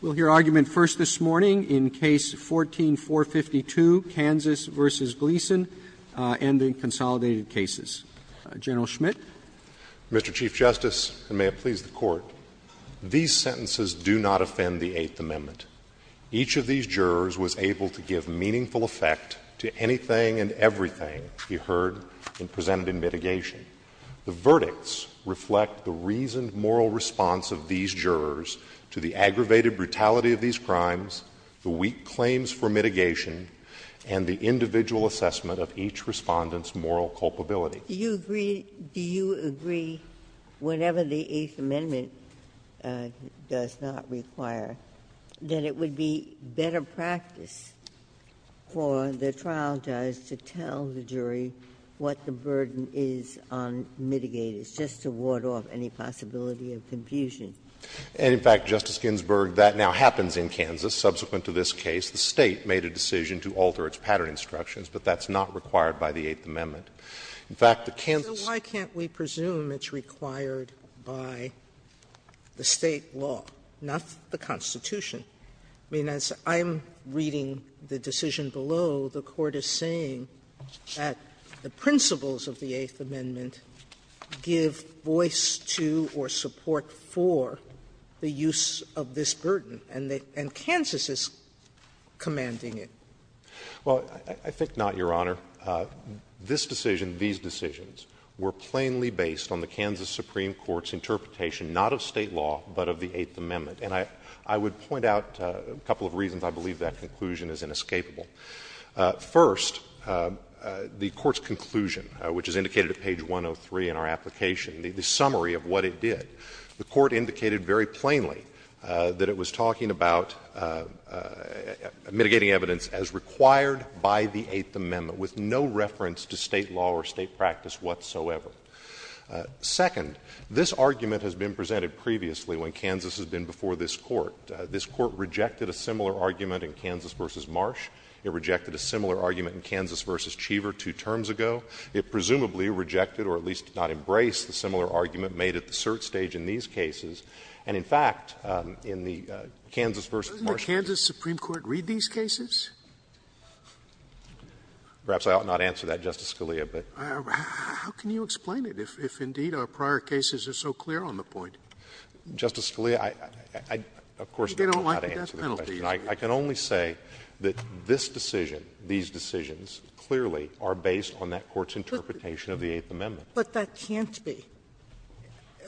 We'll hear argument first this morning in Case 14-452, Kansas v. Gleason, and the Consolidated Cases. General Schmidt. Mr. Chief Justice, and may it please the Court, these sentences do not offend the Eighth Amendment. Each of these jurors was able to give meaningful effect to anything and everything he heard and presented in mitigation. The verdicts reflect the reasoned moral response of these jurors to the aggravated brutality of these crimes, the weak claims for mitigation, and the individual assessment of each Respondent's moral culpability. Do you agree, whenever the Eighth Amendment does not require, that it would be better practice for the trial judge to tell the jury what the burden is on mitigators, just to ward off any possibility of confusion? And, in fact, Justice Ginsburg, that now happens in Kansas, subsequent to this case. The State made a decision to alter its pattern instructions, but that's not required by the Eighth Amendment. In fact, the Kansas So why can't we presume it's required by the State law, not the Constitution? I mean, as I'm reading the decision below, the Court is saying that the principles of the Eighth Amendment give voice to or support for the use of this burden, and Kansas is commanding it. Well, I think not, Your Honor. This decision, these decisions, were plainly based on the Kansas Supreme Court's interpretation, not of State law, but of the Eighth Amendment. And I would point out a couple of reasons I believe that conclusion is inescapable. First, the Court's conclusion, which is indicated at page 103 in our application, the summary of what it did, the Court indicated very plainly that it was talking about mitigating evidence as required by the Eighth Amendment, with no reference to State law or State practice whatsoever. Second, this argument has been presented previously when Kansas has been before this Court. This Court rejected a similar argument in Kansas v. Marsh. It rejected a similar argument in Kansas v. Cheever two terms ago. It presumably rejected or at least did not embrace the similar argument made at the cert stage in these cases. And in fact, in the Kansas v. Marsh case the Court said that it was not necessary to mitigate evidence as required by the Eighth Amendment. I'm sorry, Justice Scalia, but how can you explain it if indeed our prior cases are so clear on the point? Justice Scalia, I, of course, don't know how to answer the question. I can only say that this decision, these decisions, clearly are based on that Court's interpretation of the Eighth Amendment. Sotomayor, but that can't be.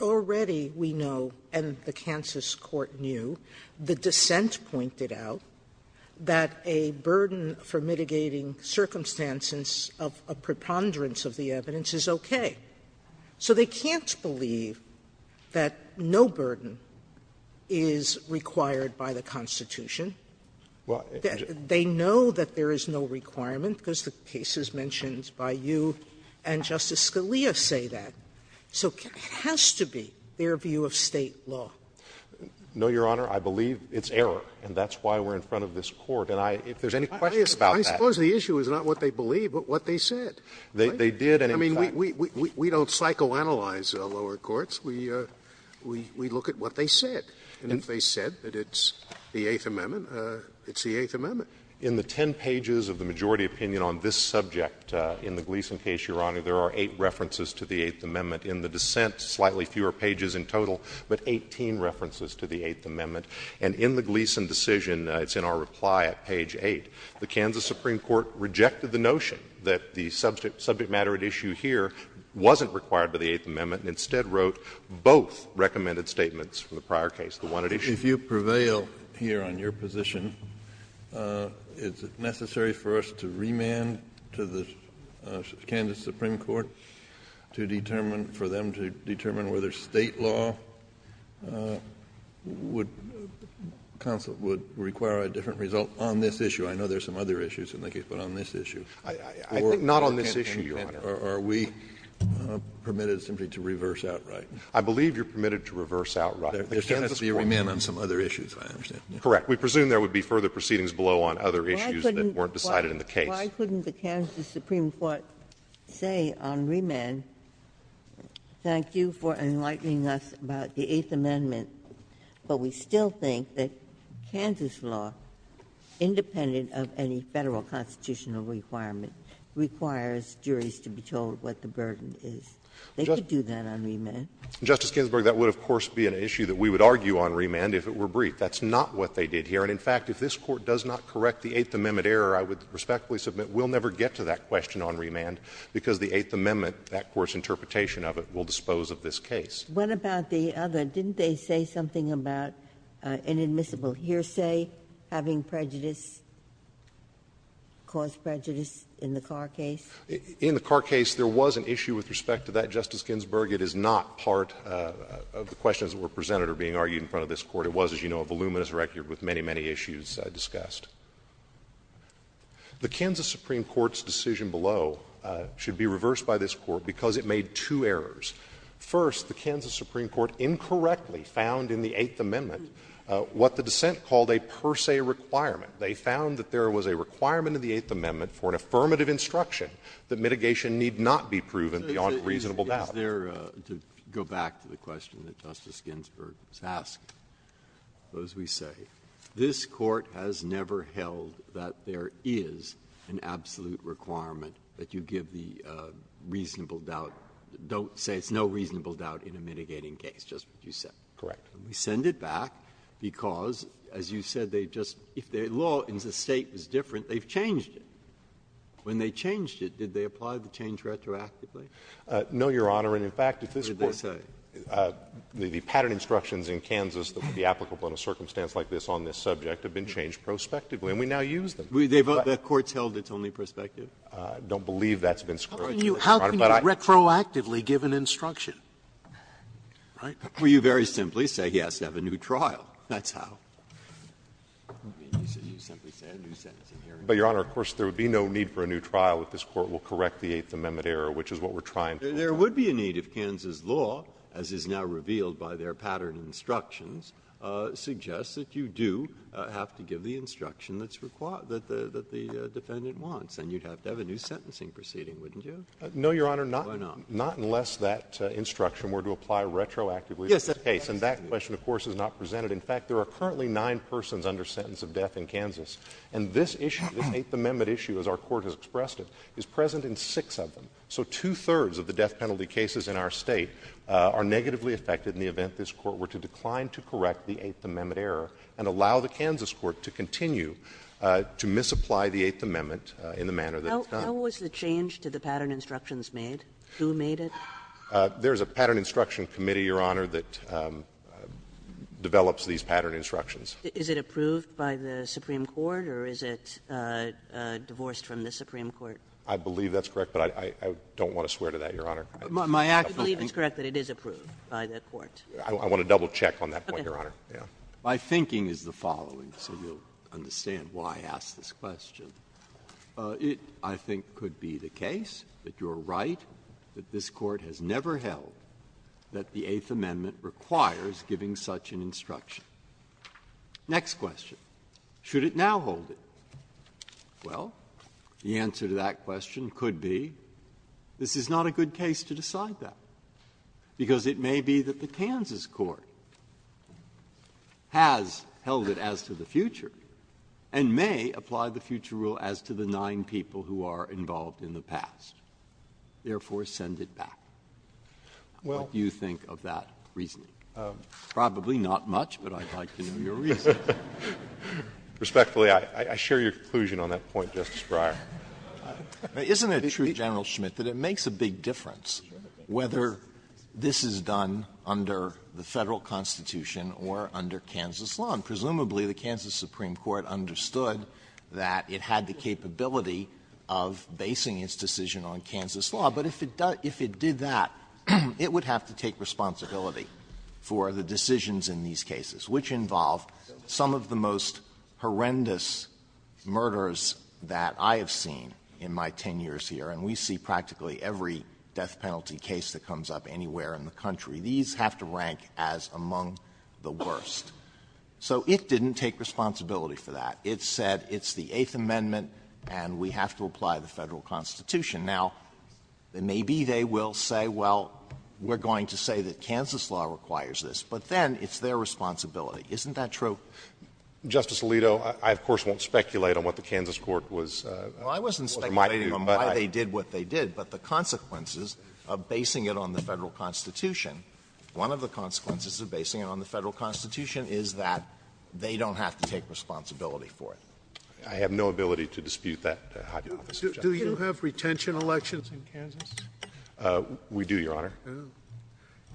Already we know, and the Kansas court knew, the dissent pointed out that a burden for mitigating circumstances of preponderance of the evidence is okay. So they can't believe that no burden is required by the Constitution. They know that there is no requirement because the case is mentioned by you and Justice Scalia say that. So it has to be their view of State law. No, Your Honor, I believe it's error, and that's why we're in front of this Court. And I, if there's any questions about that. Scalia, I suppose the issue is not what they believe, but what they said, right? They did, and in fact we don't psychoanalyze lower courts. We look at what they said. And if they said that it's the Eighth Amendment, it's the Eighth Amendment. In the 10 pages of the majority opinion on this subject in the Gleeson case, Your Honor, there are 8 references to the Eighth Amendment. In the dissent, slightly fewer pages in total, but 18 references to the Eighth Amendment. And in the Gleeson decision, it's in our reply at page 8, the Kansas Supreme Court rejected the notion that the subject matter at issue here wasn't required by the Eighth Amendment, and instead wrote both recommended statements from the prior case, the one at issue. Kennedy, if you prevail here on your position, is it necessary for us to remand to the Kansas Supreme Court to determine, for them to determine whether State law would require a different result on this issue? I know there are some other issues in the case, but on this issue. I think not on this issue, Your Honor. Are we permitted simply to reverse outright? I believe you're permitted to reverse outright. There can't be a remand on some other issues, I understand. Correct. We presume there would be further proceedings below on other issues that weren't decided in the case. Why couldn't the Kansas Supreme Court say on remand, thank you for enlightening us about the Eighth Amendment, but we still think that Kansas law, independent of any Federal constitutional requirement, requires juries to be told what the burden is. They could do that on remand. Justice Ginsburg, that would, of course, be an issue that we would argue on remand if it were briefed. That's not what they did here. And, in fact, if this Court does not correct the Eighth Amendment error, I would respectfully submit we'll never get to that question on remand, because the Eighth Amendment, that Court's interpretation of it, will dispose of this case. What about the other? Didn't they say something about an admissible hearsay having prejudice, caused prejudice in the Carr case? In the Carr case, there was an issue with respect to that, Justice Ginsburg. It is not part of the questions that were presented or being argued in front of this Court. It was, as you know, a voluminous record with many, many issues discussed. The Kansas Supreme Court's decision below should be reversed by this Court because it made two errors. First, the Kansas Supreme Court incorrectly found in the Eighth Amendment what the dissent called a per se requirement. They found that there was a requirement in the Eighth Amendment for an affirmative instruction that mitigation need not be proven beyond reasonable doubt. Breyer, to go back to the question that Justice Ginsburg was asking, as we say, this Court has never held that there is an absolute requirement that you give the reasonable doubt, don't say it's no reasonable doubt in a mitigating case, just what you said. Correct. And we send it back because, as you said, they just — if their law in the State was different, they've changed it. When they changed it, did they apply the change retroactively? No, Your Honor. And, in fact, if this Court — What did they say? The pattern instructions in Kansas that would be applicable in a circumstance like this on this subject have been changed prospectively, and we now use them. I don't believe that's been scrutinized, Your Honor. How can you retroactively give an instruction, right? Well, you very simply say he has to have a new trial. That's how. I mean, you simply say a new sentencing hearing. But, Your Honor, of course, there would be no need for a new trial if this Court will correct the Eighth Amendment error, which is what we're trying to do. There would be a need if Kansas law, as is now revealed by their pattern instructions, suggests that you do have to give the instruction that's required, that the defendant wants. Then you'd have to have a new sentencing proceeding, wouldn't you? No, Your Honor. Why not? Not unless that instruction were to apply retroactively to this case. And that question, of course, is not presented. In fact, there are currently nine persons under sentence of death in Kansas. And this issue, this Eighth Amendment issue, as our Court has expressed it, is present in six of them. So two-thirds of the death penalty cases in our State are negatively affected in the event this Court were to decline to correct the Eighth Amendment error and allow the manner that it's done. How was the change to the pattern instructions made? Who made it? There's a pattern instruction committee, Your Honor, that develops these pattern instructions. Is it approved by the Supreme Court, or is it divorced from the Supreme Court? I believe that's correct, but I don't want to swear to that, Your Honor. I believe it's correct that it is approved by the Court. I want to double-check on that point, Your Honor. Okay. My thinking is the following, so you'll understand why I asked this question. It, I think, could be the case that you're right, that this Court has never held that the Eighth Amendment requires giving such an instruction. Next question. Should it now hold it? Well, the answer to that question could be this is not a good case to decide that, because it may be that the Kansas court has held it as to the future and may apply the future rule as to the nine people who are involved in the past, therefore send it back. What do you think of that reasoning? Probably not much, but I'd like to know your reasoning. Respectfully, I share your conclusion on that point, Justice Breyer. Isn't it true, General Schmidt, that it makes a big difference whether this is done under the Federal Constitution or under Kansas law? Presumably, the Kansas Supreme Court understood that it had the capability of basing its decision on Kansas law. But if it did that, it would have to take responsibility for the decisions in these cases, which involve some of the most horrendous murders that I have seen in my 10 years here, and we see practically every death penalty case that comes up anywhere in the country. These have to rank as among the worst. So it didn't take responsibility for that. It said it's the Eighth Amendment and we have to apply the Federal Constitution. Now, maybe they will say, well, we're going to say that Kansas law requires this, but then it's their responsibility. Isn't that true? Justice Alito, I of course won't speculate on what the Kansas court was reminding you, but I do. Well, I wasn't speculating on why they did what they did, but the consequences of basing it on the Federal Constitution, one of the consequences of basing it on the Federal Constitution is that they don't have to take responsibility for it. I have no ability to dispute that, Your Honor. Scalia. Do you have retention elections in Kansas? We do, Your Honor.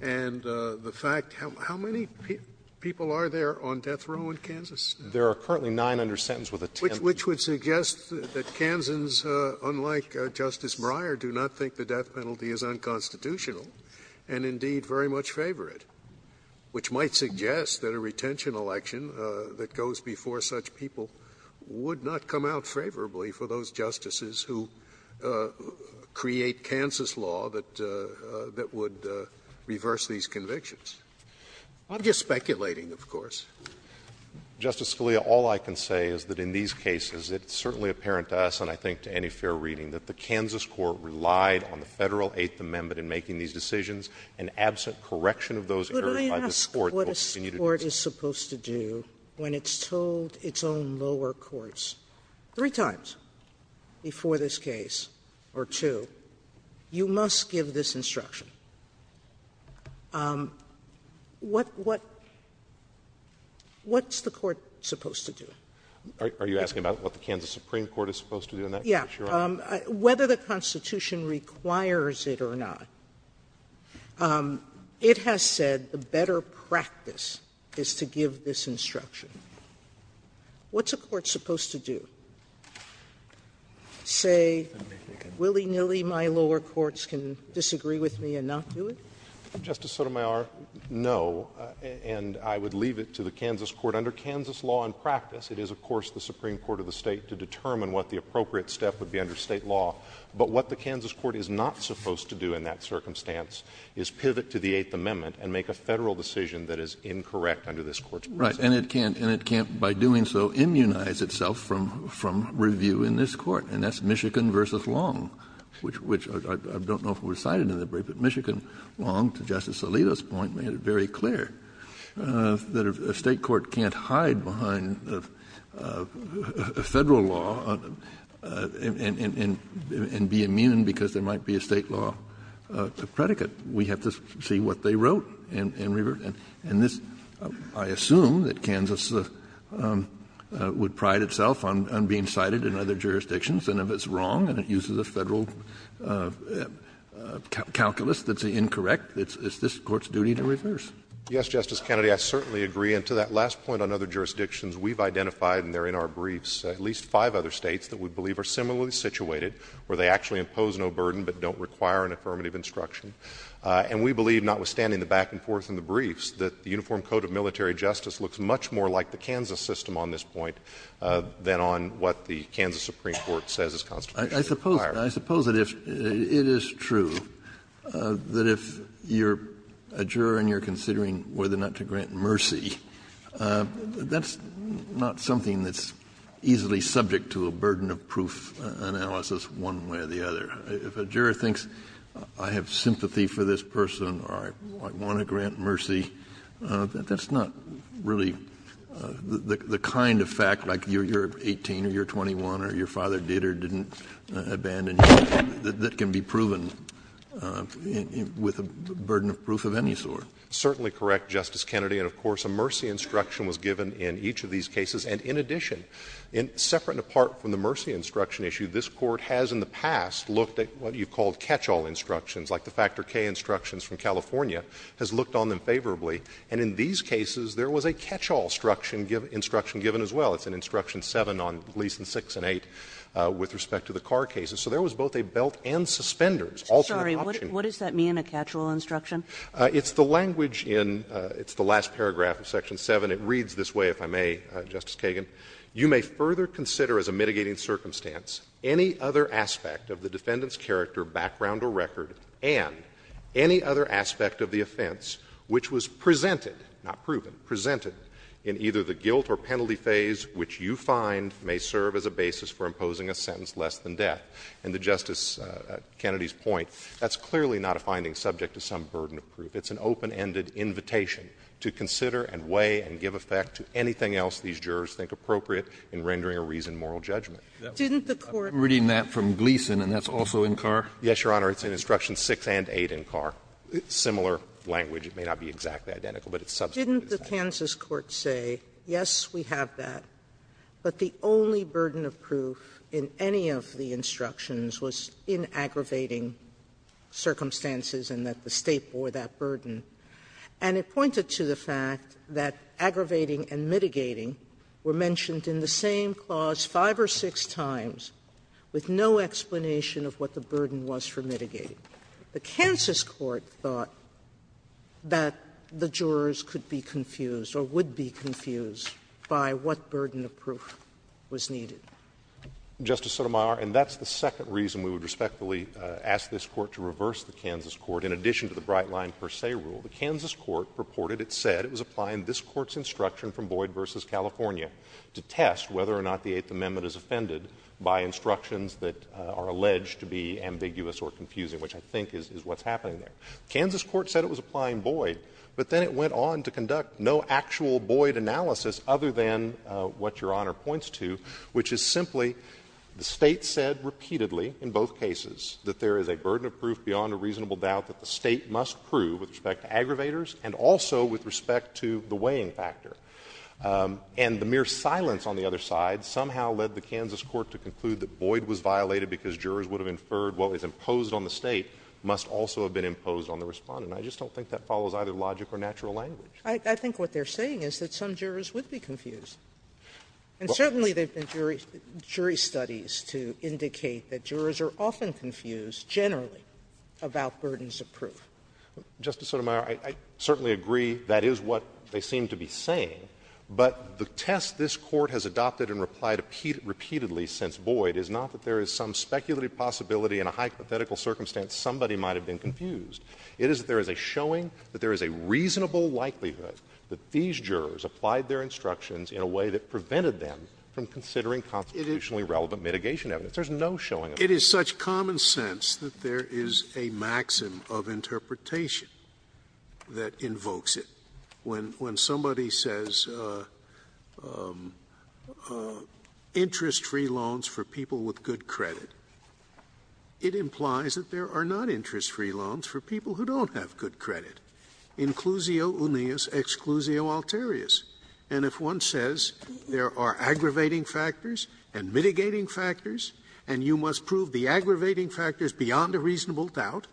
And the fact how many people are there on death row in Kansas? There are currently 900 sentenced with a 10th. Which would suggest that Kansans, unlike Justice Breyer, do not think the death penalty is unconstitutional, and indeed very much favor it, which might suggest that a retention election that goes before such people would not come out favorably for those justices who create Kansas law that would reverse these convictions. I'm just speculating, of course. Justice Scalia, all I can say is that in these cases, it's certainly apparent to us, and I think to any fair reading, that the Kansas court relied on the Federal Eighth Amendment in making these decisions, and absent correction of those errors by the court will continue to do so. Sotomayor, can I ask what a court is supposed to do when it's told its own lower courts three times before this case or two, you must give this instruction? What what's the court supposed to do? Are you asking about what the Kansas Supreme Court is supposed to do in that case, Your Honor? Yeah. Whether the Constitution requires it or not, it has said the better practice is to give this instruction. What's a court supposed to do? Say willy-nilly my lower courts can disagree with me and not do it? Justice Sotomayor, no, and I would leave it to the Kansas court. Under Kansas law and practice, it is, of course, the Supreme Court of the State to determine what the appropriate step would be under State law, but what the Kansas court is not supposed to do in that circumstance is pivot to the Eighth Amendment and make a Federal decision that is incorrect under this Court's presumption. Right. And it can't, and it can't by doing so immunize itself from review in this Court, and that's Michigan v. Long, which I don't know if it was cited in the brief, but Michigan Long, to Justice Alito's point, made it very clear that a State court can't hide behind a Federal law and be immune because there might be a State law predicate. We have to see what they wrote and revert. And this, I assume that Kansas would pride itself on being cited in other jurisdictions. And if it's wrong and it uses a Federal calculus that's incorrect, it's this Court's duty to reverse. Yes, Justice Kennedy, I certainly agree. And to that last point on other jurisdictions, we've identified, and they're in our briefs, at least five other States that we believe are similarly situated, where they actually impose no burden but don't require an affirmative instruction. And we believe, notwithstanding the back and forth in the briefs, that the Uniform Code of Military Justice looks much more like the Kansas system on this point than on what the Kansas Supreme Court says is constitutionally required. Kennedy, I suppose that if it is true, that if you're a juror and you're considering whether or not to grant mercy, that's not something that's easily subject to a burden of proof analysis one way or the other. If a juror thinks, I have sympathy for this person or I want to grant mercy, that's not really the kind of fact, like you're 18 or you're 21 or your father did or didn't abandon you, that can be proven with a burden of proof of any sort. Certainly correct, Justice Kennedy, and of course a mercy instruction was given in each of these cases. And in addition, separate and apart from the mercy instruction issue, this Court has in the past looked at what you've called catch-all instructions, like the Factor K instructions from California, has looked on them favorably. And in these cases, there was a catch-all instruction given as well. It's in Instruction 7 on Gleason 6 and 8 with respect to the Carr cases. So there was both a belt and suspenders, alternate option. Sorry, what does that mean, a catch-all instruction? It's the language in the last paragraph of Section 7. It reads this way, if I may, Justice Kagan. You may further consider as a mitigating circumstance any other aspect of the defendant's character, background or record, and any other aspect of the offense which was presented — not proven, presented — in either the guilt or penalty phase which you find may serve as a basis for imposing a sentence less than death. And to Justice Kennedy's point, that's clearly not a finding subject to some burden of proof. It's an open-ended invitation to consider and weigh and give effect to anything else these jurors think appropriate in rendering a reasoned moral judgment. Didn't the Court — I'm reading that from Gleason, and that's also in Carr? Yes, Your Honor. It's in Instructions 6 and 8 in Carr, similar language. It may not be exactly identical, but it's substituted. Didn't the Kansas court say, yes, we have that, but the only burden of proof in any of the instructions was in aggravating circumstances and that the State bore that burden, and it pointed to the fact that aggravating and mitigating were mentioned in the same clause five or six times with no explanation of what the burden was for mitigating? The Kansas court thought that the jurors could be confused or would be confused by what burden of proof was needed. Justice Sotomayor, and that's the second reason we would respectfully ask this Court to reverse the Kansas court, in addition to the Bright Line Per Se rule. The Kansas court purported it said it was applying this Court's instruction from Boyd v. California to test whether or not the Eighth Amendment is offended by instructions that are alleged to be ambiguous or confusing, which I think is what's happening there. Kansas court said it was applying Boyd, but then it went on to conduct no actual Boyd analysis other than what Your Honor points to, which is simply the State said repeatedly in both cases that there is a burden of proof beyond a reasonable doubt that the State must prove with respect to aggravators and also with respect to the weighing factor. And the mere silence on the other side somehow led the Kansas court to conclude that Boyd was violated because jurors would have inferred what was imposed on the State must also have been imposed on the Respondent. I just don't think that follows either logic or natural language. Sotomayor, I think what they're saying is that some jurors would be confused. And certainly there have been jury studies to indicate that jurors are often confused generally about burdens of proof. Justice Sotomayor, I certainly agree that is what they seem to be saying, but the test this Court has adopted and replied repeatedly since Boyd is not that there is some speculative possibility in a hypothetical circumstance somebody might have been confused. It is that there is a showing that there is a reasonable likelihood that these jurors applied their instructions in a way that prevented them from considering constitutionally relevant mitigation evidence. There is no showing of that. Scalia. It is such common sense that there is a maxim of interpretation that invokes it. When somebody says interest-free loans for people with good credit, it implies that there are not interest-free loans for people who don't have good credit, inclusio unius, exclusio alterius. And if one says there are aggravating factors and mitigating factors, and you must prove the aggravating factors beyond a reasonable doubt,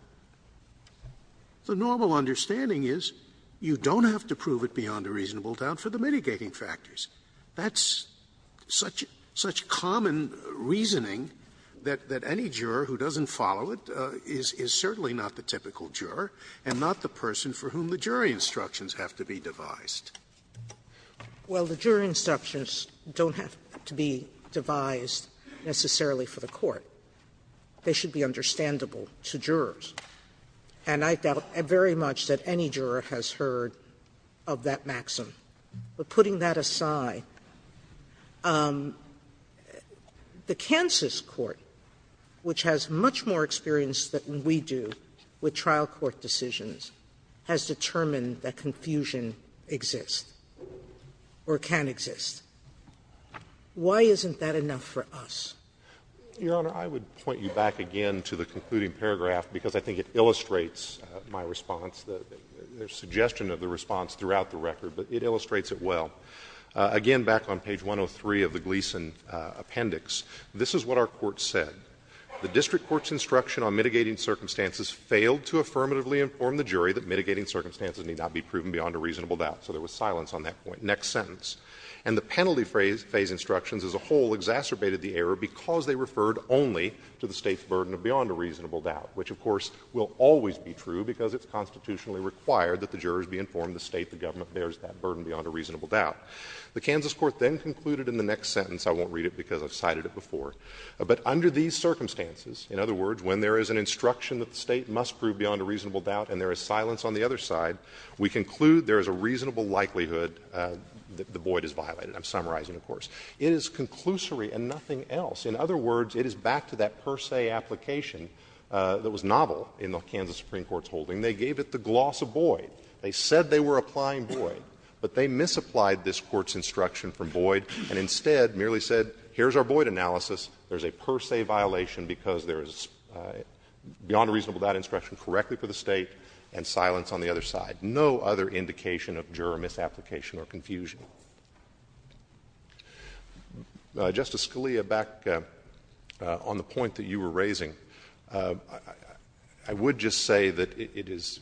the normal understanding is you don't have to prove it beyond a reasonable doubt for the mitigating factors. That's such common reasoning that any juror who doesn't follow it is certainly not the typical juror and not the person for whom the jury instructions have to be devised. Sotomayor. Well, the jury instructions don't have to be devised necessarily for the Court. They should be understandable to jurors. And I doubt very much that any juror has heard of that maxim. But putting that aside, the Kansas court, which has much more experience than we do with trial court decisions, has determined that confusion exists or can exist. Why isn't that enough for us? Your Honor, I would point you back again to the concluding paragraph, because I think it illustrates my response, the suggestion of the response throughout the record, but it illustrates it well. Again, back on page 103 of the Gleason appendix, this is what our court said. The district court's instruction on mitigating circumstances failed to affirmatively inform the jury that mitigating circumstances need not be proven beyond a reasonable doubt. So there was silence on that point. Next sentence. And the penalty phase instructions as a whole exacerbated the error because they referred only to the State's burden of beyond a reasonable doubt, which, of course, will always be true because it's constitutionally required that the jurors be informed that the State, the government, bears that burden beyond a reasonable doubt. The Kansas court then concluded in the next sentence — I won't read it because I've cited it before — but under these circumstances, in other words, when there is an instruction that the State must prove beyond a reasonable doubt and there is silence on the other side, we conclude there is a reasonable likelihood that the void is violated. I'm summarizing, of course. It is conclusory and nothing else. In other words, it is back to that per se application that was novel in the Kansas Supreme Court's holding. They gave it the gloss of void. They said they were applying void, but they misapplied this Court's instruction from void and instead merely said, here's our void analysis, there's a per se violation because there is beyond a reasonable doubt instruction correctly for the State and silence on the other side. No other indication of juror misapplication or confusion. Justice Scalia, back on the point that you were raising, I would just say that it is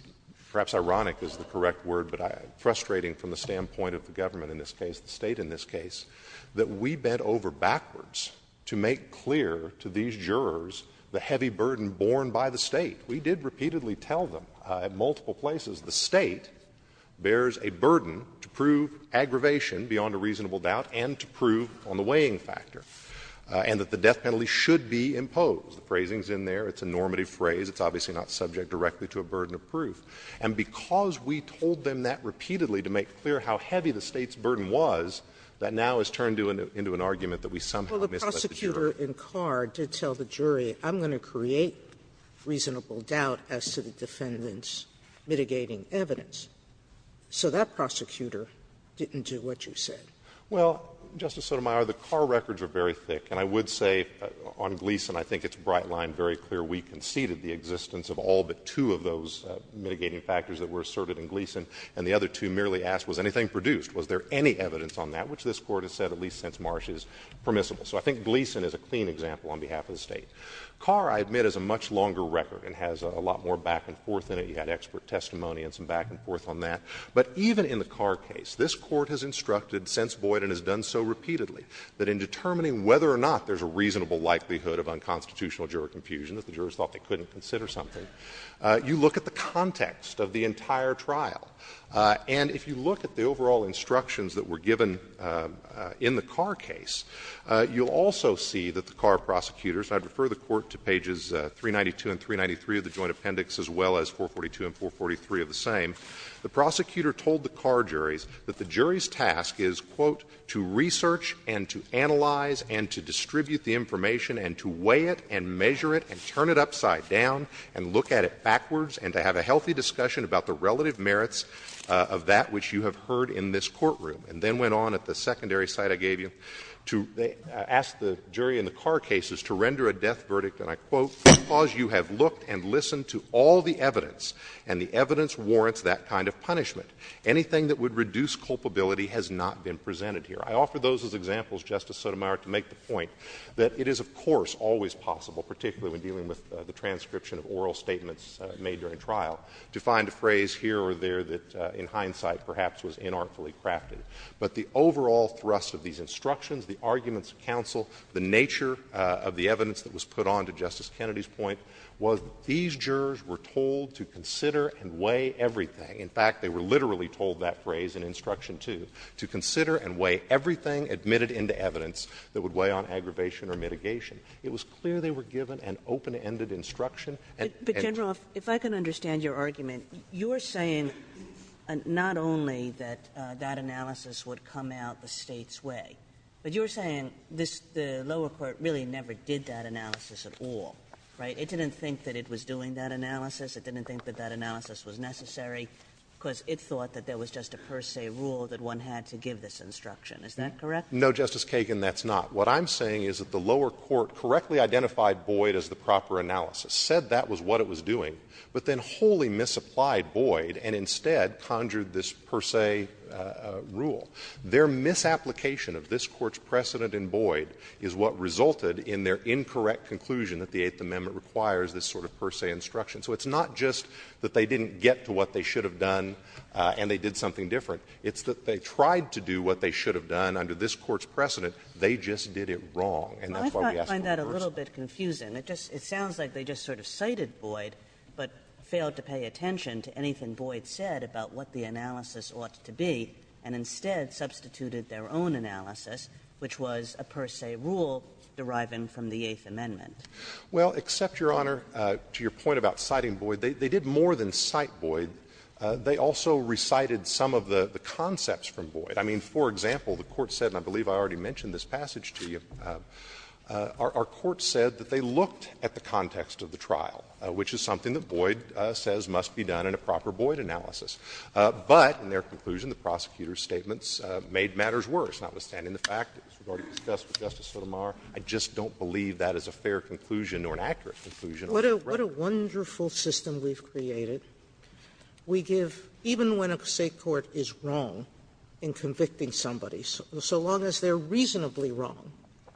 perhaps ironic is the correct word, but frustrating from the standpoint of the government in this case, the State in this case, that we bent over backwards to make clear to these jurors the heavy burden borne by the State. We did repeatedly tell them at multiple places the State bears a burden to prove aggravation beyond a reasonable doubt and to prove on the weighing factor, and that the death penalty should be imposed. The phrasing is in there. It's a normative phrase. It's obviously not subject directly to a burden of proof. And because we told them that repeatedly to make clear how heavy the State's burden was, that now has turned into an argument that we somehow misplaced the juror. Sotomayor, the car records are very thick, and I would say on Gleeson I think it's bright line very clear we conceded the existence of all but two of those mitigating evidence. So I think Gleeson is a clean example on behalf of the State. Carr, I admit, is a much longer record and has a lot more back and forth in it. You had expert testimony and some back and forth on that. But even in the Carr case, this Court has instructed since Boyd and has done so repeatedly that in determining whether or not there's a reasonable likelihood of unconstitutional juror confusion, if the jurors thought they couldn't consider something, you look at the context of the entire trial. And if you look at the overall instructions that were given in the Carr case, you'll also see that the Carr prosecutors, I'd refer the Court to pages 392 and 393 of the Joint Appendix as well as 442 and 443 of the same, the prosecutor told the Carr juries that the jury's task is, quote, to research and to analyze and to distribute the information and to weigh it and measure it and turn it upside down and look at it backwards and to have a healthy discussion about the relative merits of that which you have heard in this courtroom. And then went on at the secondary site I gave you to ask the jury in the Carr cases to render a death verdict, and I quote, because you have looked and listened to all the evidence and the evidence warrants that kind of punishment. Anything that would reduce culpability has not been presented here. I offer those as examples, Justice Sotomayor, to make the point that it is, of course, always possible, particularly when dealing with the transcription of oral statements made during trial, to find a phrase here or there that in hindsight perhaps was inartfully crafted. But the overall thrust of these instructions, the arguments of counsel, the nature of the evidence that was put on to Justice Kennedy's point was that these jurors were told to consider and weigh everything. In fact, they were literally told that phrase in Instruction 2, to consider and weigh everything admitted into evidence that would weigh on aggravation or mitigation. It was clear they were given an open-ended instruction and at that point. Kagan. But, General, if I can understand your argument, you are saying not only that that analysis would come out the State's way, but you are saying this, the lower court really never did that analysis at all, right? It didn't think that it was doing that analysis. It didn't think that that analysis was necessary because it thought that there was just a per se rule that one had to give this instruction, is that correct? No, Justice Kagan, that's not. What I'm saying is that the lower court correctly identified Boyd as the proper analysis, said that was what it was doing, but then wholly misapplied Boyd and instead conjured this per se rule. Their misapplication of this Court's precedent in Boyd is what resulted in their incorrect conclusion that the Eighth Amendment requires this sort of per se instruction. So it's not just that they didn't get to what they should have done and they did something different. It's that they tried to do what they should have done under this Court's precedent. They just did it wrong, and that's why we ask conversion. I find that a little bit confusing. It sounds like they just sort of cited Boyd but failed to pay attention to anything Boyd said about what the analysis ought to be and instead substituted their own analysis, which was a per se rule deriving from the Eighth Amendment. Well, except, Your Honor, to your point about citing Boyd, they did more than cite Boyd. They also recited some of the concepts from Boyd. I mean, for example, the Court said, and I believe I already mentioned this passage to you, our Court said that they looked at the context of the trial, which is something that Boyd says must be done in a proper Boyd analysis. But in their conclusion, the prosecutor's statements made matters worse, notwithstanding the fact that this was already discussed with Justice Sotomayor. I just don't believe that is a fair conclusion or an accurate conclusion. Sotomayor, what a wonderful system we've created. We give, even when a State court is wrong in convicting somebody, so long as they're reasonably wrong,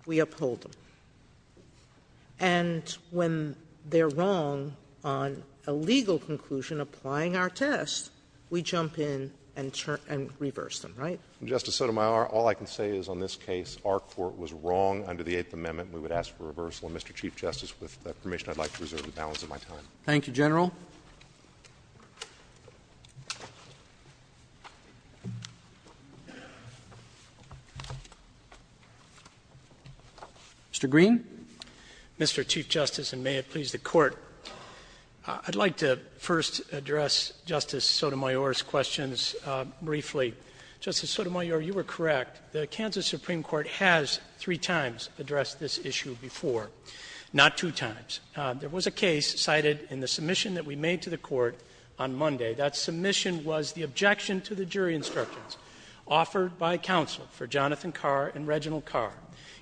we uphold them. And when they're wrong on a legal conclusion applying our test, we jump in and turn and reverse them, right? Justice Sotomayor, all I can say is on this case, our Court was wrong under the Eighth Amendment. We would ask for reversal. And, Mr. Chief Justice, with that permission, I'd like to reserve the balance of my time. Thank you, General. Mr. Green? Mr. Chief Justice, and may it please the Court, I'd like to first address Justice Sotomayor's questions briefly. Justice Sotomayor, you were correct. The Kansas Supreme Court has three times addressed this issue before, not two times. There was a case cited in the submission that we made to the Court on Monday. That submission was the objection to the jury instructions offered by counsel for Jonathan Carr and Reginald Carr.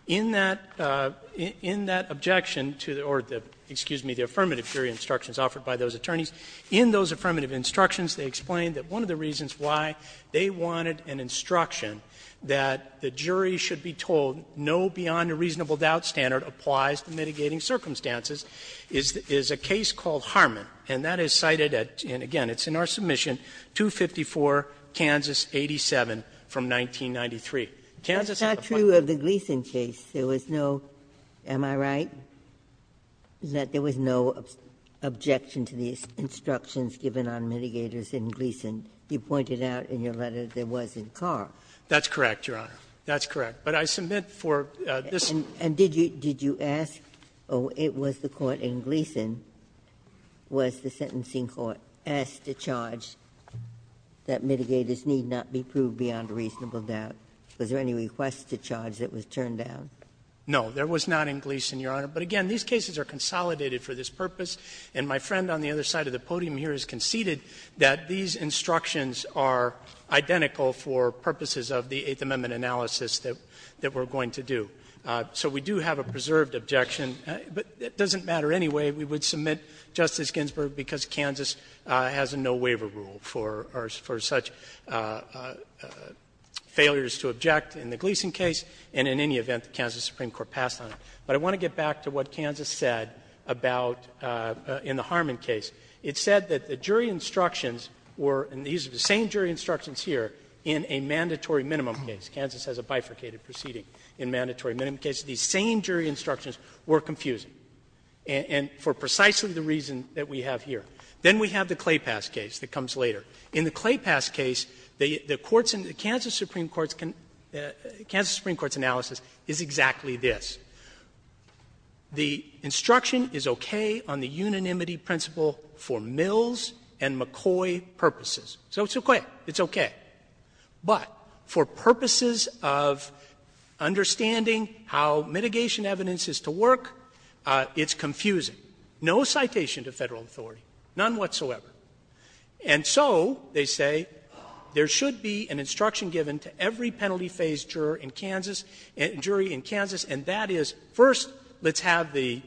In that objection to the or the, excuse me, the affirmative jury instructions offered by those attorneys, in those affirmative instructions, they explained that one of the reasons why they wanted an instruction that the jury should be told no beyond a reasonable doubt standard applies to mitigating circumstances is a case called Harmon. And that is cited at, and again, it's in our submission, 254, Kansas 87 from 1993. Kansas had a point. Ginsburg-Garza That's not true of the Gleason case. There was no, am I right, that there was no objection to the instructions given on mitigators in Gleason. You pointed out in your letter there was in Carr. Sotomayor That's correct, Your Honor. That's correct. But I submit for this. Ginsburg-Garza And did you ask, oh, it was the court in Gleason, was the sentencing court, asked to charge that mitigators need not be proved beyond a reasonable doubt. Was there any request to charge that was turned down? Sotomayor No. There was not in Gleason, Your Honor. But again, these cases are consolidated for this purpose. And my friend on the other side of the podium here has conceded that these instructions are identical for purposes of the Eighth Amendment analysis that we're going to do. So we do have a preserved objection. But it doesn't matter anyway. We would submit, Justice Ginsburg, because Kansas has a no-waiver rule for such failures to object in the Gleason case and in any event the Kansas Supreme Court passed on it. But I want to get back to what Kansas said about in the Harmon case. It said that the jury instructions were, and these are the same jury instructions here, in a mandatory minimum case. Kansas has a bifurcated proceeding in mandatory minimum cases. These same jury instructions were confusing, and for precisely the reason that we have here. Then we have the Claypass case that comes later. In the Claypass case, the courts in the Kansas Supreme Court's analysis is exactly this. The instruction is okay on the unanimity principle for Mills and McCoy purposes. So it's okay. It's okay. But for purposes of understanding how mitigation evidence is to work, it's confusing. No citation to Federal authority. None whatsoever. And so, they say, there should be an instruction given to every penalty-phase juror in Kansas, jury in Kansas, and that is, first, let's have the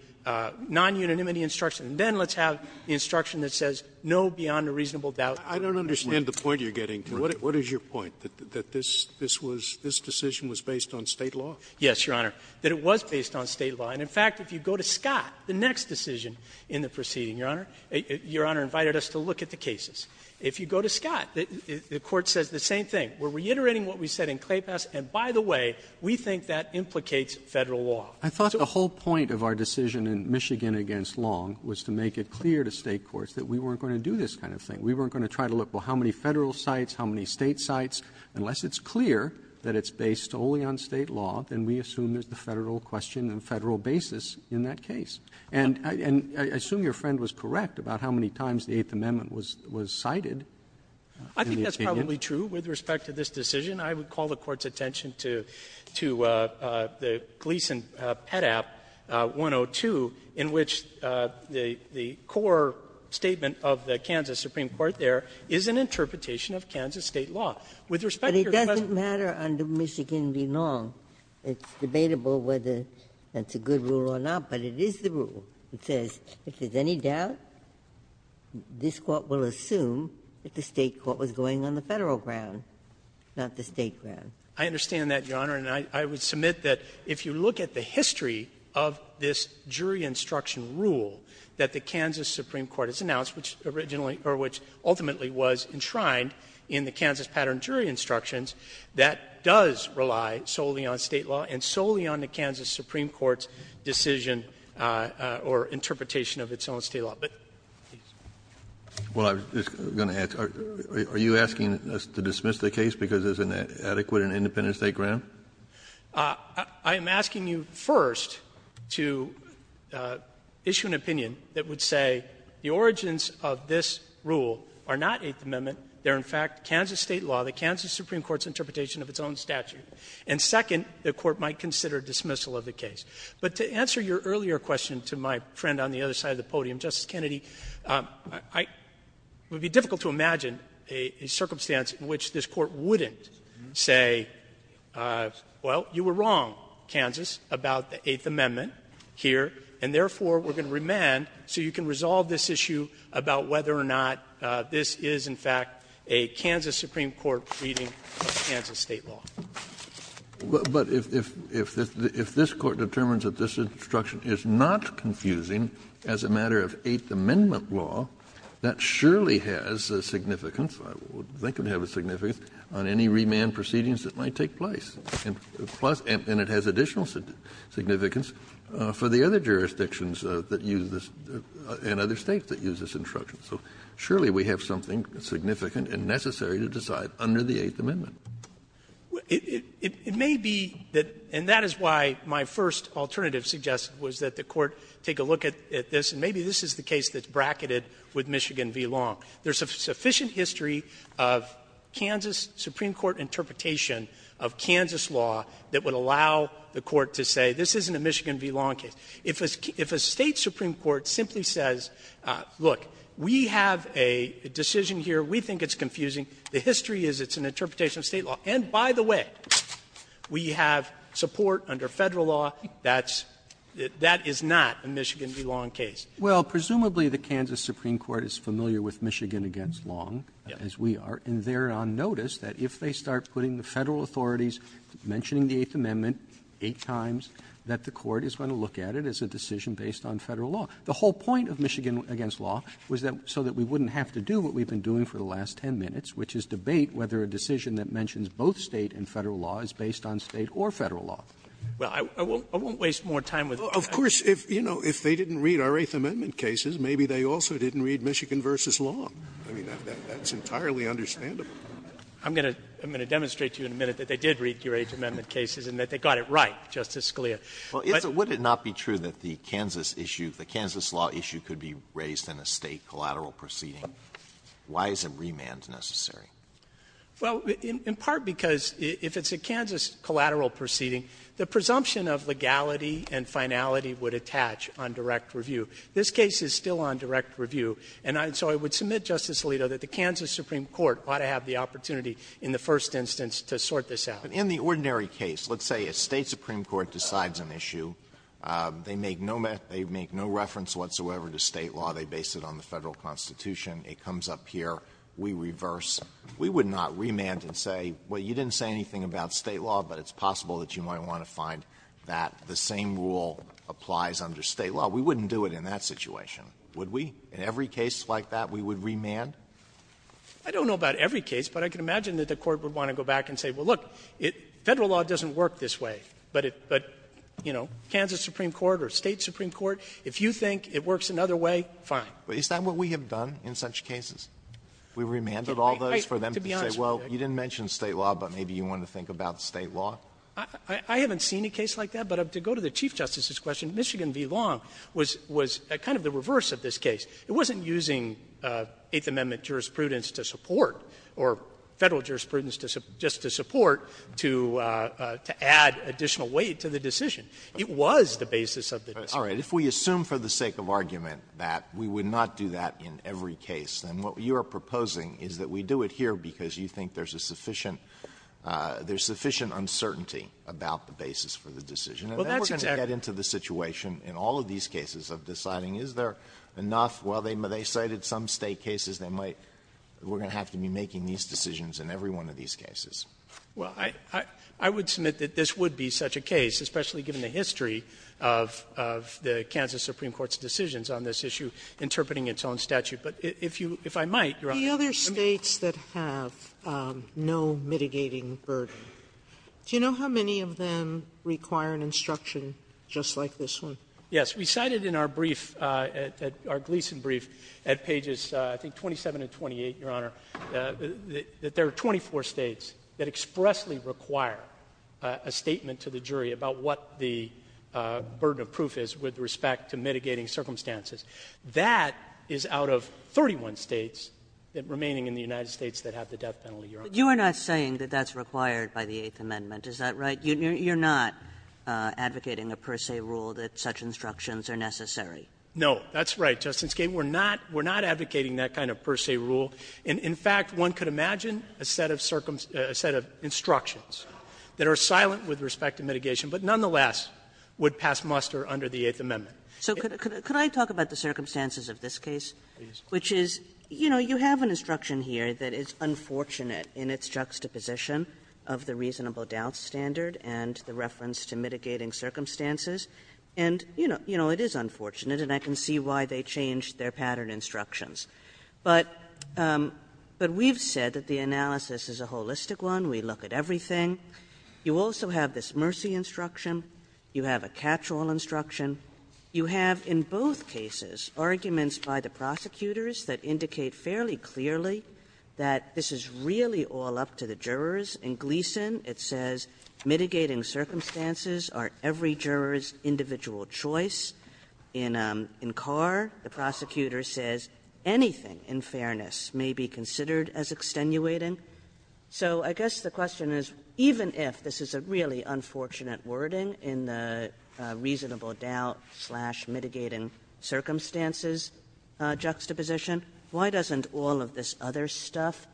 non-unanimity instruction, and then let's have the instruction that says, no, beyond a reasonable doubt. Scalia. I don't understand the point you're getting to. What is your point? That this was, this decision was based on State law? Yes, Your Honor, that it was based on State law. And in fact, if you go to Scott, the next decision in the proceeding, Your Honor, Your Honor invited us to look at the cases. If you go to Scott, the Court says the same thing. We're reiterating what we said in Claypass, and by the way, we think that implicates Federal law. I thought the whole point of our decision in Michigan against Long was to make it clear to State courts that we weren't going to do this kind of thing. We weren't going to try to look, well, how many Federal sites, how many State sites? Unless it's clear that it's based only on State law, then we assume there's the Federal question and Federal basis in that case. And I assume your friend was correct about how many times the Eighth Amendment was cited. I think that's probably true with respect to this decision. I would call the Court's attention to the Gleason Pet App 102, in which the core statement of the Kansas Supreme Court there is an interpretation of Kansas State law. With respect to your question of the State law, I think it's a good rule or not, but it is the rule that says if there's any doubt, this Court will assume that it's the State court was going on the Federal ground, not the State ground. I understand that, Your Honor, and I would submit that if you look at the history of this jury instruction rule that the Kansas Supreme Court has announced, which ultimately was enshrined in the Kansas Pattern Jury Instructions, that does rely solely on State law and solely on the Kansas Supreme Court's decision or interpretation of its own State law. a little bit. Please. Kennedy, are you asking us to dismiss the case because it's an adequate and independent State ground? I am asking you, first, to issue an opinion that would say the origins of this rule are not Eighth Amendment. They're, in fact, Kansas State law, the Kansas Supreme Court's interpretation of its own statute. And second, the Court might consider dismissal of the case. But to answer your earlier question to my friend on the other side of the podium, Justice Kennedy, I — it would be difficult to imagine a circumstance in which this Court wouldn't say, well, you were wrong, Kansas, about the Eighth Amendment here, and therefore, we're going to remand so you can resolve this issue about whether or not this is, in fact, a Kansas Supreme Court reading of Kansas State law. But if this Court determines that this instruction is not confusing as a matter of Eighth Amendment law, that surely has a significance, I would think it would have a significance, on any remand proceedings that might take place. And it has additional significance for the other jurisdictions that use this and other States that use this instruction. So surely we have something significant and necessary to decide under the Eighth Amendment. It may be that — and that is why my first alternative suggested was that the Court take a look at this, and maybe this is the case that's bracketed with Michigan v. Long. There's a sufficient history of Kansas Supreme Court interpretation of Kansas law that would allow the Court to say this isn't a Michigan v. Long case. If a State supreme court simply says, look, we have a decision here, we think it's a Michigan v. State law, and by the way, we have support under Federal law, that's — that is not a Michigan v. Long case. Roberts Well, presumably, the Kansas Supreme Court is familiar with Michigan v. Long, as we are, and they're on notice that if they start putting the Federal authorities mentioning the Eighth Amendment eight times, that the Court is going to look at it as a decision based on Federal law. The whole point of Michigan v. Long was that — so that we wouldn't have to do what we've been doing for the last 10 minutes, which is debate whether a decision that mentions both State and Federal law is based on State or Federal law. Well, I won't — I won't waste more time with that. Of course, if, you know, if they didn't read our Eighth Amendment cases, maybe they also didn't read Michigan v. Long. I mean, that's entirely understandable. I'm going to — I'm going to demonstrate to you in a minute that they did read your Eighth Amendment cases, and that they got it right, Justice Scalia. But — Alito, would it not be true that the Kansas issue, the Kansas law issue could be raised in a State collateral proceeding? Why is a remand necessary? Well, in part because if it's a Kansas collateral proceeding, the presumption of legality and finality would attach on direct review. This case is still on direct review. And so I would submit, Justice Alito, that the Kansas Supreme Court ought to have the opportunity in the first instance to sort this out. In the ordinary case, let's say a State supreme court decides an issue. They make no reference whatsoever to State law. They base it on the Federal Constitution. It comes up here. We reverse. We would not remand and say, well, you didn't say anything about State law, but it's possible that you might want to find that the same rule applies under State law. We wouldn't do it in that situation, would we? In every case like that, we would remand? I don't know about every case, but I can imagine that the Court would want to go back and say, well, look, Federal law doesn't work this way, but it — but, you know, Kansas Supreme Court or State supreme court, if you think it works another way, fine. Alito, is that what we have done in such cases? We remanded all those for them to say, well, you didn't mention State law, but maybe you want to think about State law? I haven't seen a case like that, but to go to the Chief Justice's question, Michigan v. Long was kind of the reverse of this case. It wasn't using Eighth Amendment jurisprudence to support, or Federal jurisprudence just to support, to add additional weight to the decision. It was the basis of the decision. Alito, if we assume for the sake of argument that we would not do that in every case, then what you are proposing is that we do it here because you think there's a sufficient — there's sufficient uncertainty about the basis for the decision. And then we're going to get into the situation in all of these cases of deciding, is there enough? Well, they cited some State cases that might — we're going to have to be making these decisions in every one of these cases. Well, I would submit that this would be such a case, especially given the history of the Kansas Supreme Court's decisions on this issue interpreting its own statute. But if you — if I might, Your Honor, let me — The other States that have no mitigating burden, do you know how many of them require an instruction just like this one? Yes. We cited in our brief, our Gleason brief, at pages, I think, 27 and 28, Your Honor, that there are 24 States that expressly require a statement to the jury about what the burden of proof is with respect to mitigating circumstances. That is out of 31 States remaining in the United States that have the death penalty, Your Honor. But you are not saying that that's required by the Eighth Amendment, is that right? You're not advocating a per se rule that such instructions are necessary? No. That's right, Justice Kagan. We're not — we're not advocating that kind of per se rule. In fact, one could imagine a set of circumstances — a set of instructions that are silent with respect to mitigation, but nonetheless would pass muster under the Eighth Amendment. So could I talk about the circumstances of this case? Please. Which is, you know, you have an instruction here that is unfortunate in its juxtaposition of the reasonable doubt standard and the reference to mitigating circumstances. And, you know, it is unfortunate, and I can see why they changed their pattern instructions. But we've said that the analysis is a holistic one. We look at everything. You also have this mercy instruction. You have a catch-all instruction. You have in both cases arguments by the prosecutors that indicate fairly clearly that this is really all up to the jurors. In Gleeson, it says mitigating circumstances are every juror's individual choice. In Carr, the prosecutor says anything in fairness may be considered as extenuating. So I guess the question is, even if this is a really unfortunate wording in the reasonable doubt-slash-mitigating-circumstances juxtaposition, why doesn't all of this other stuff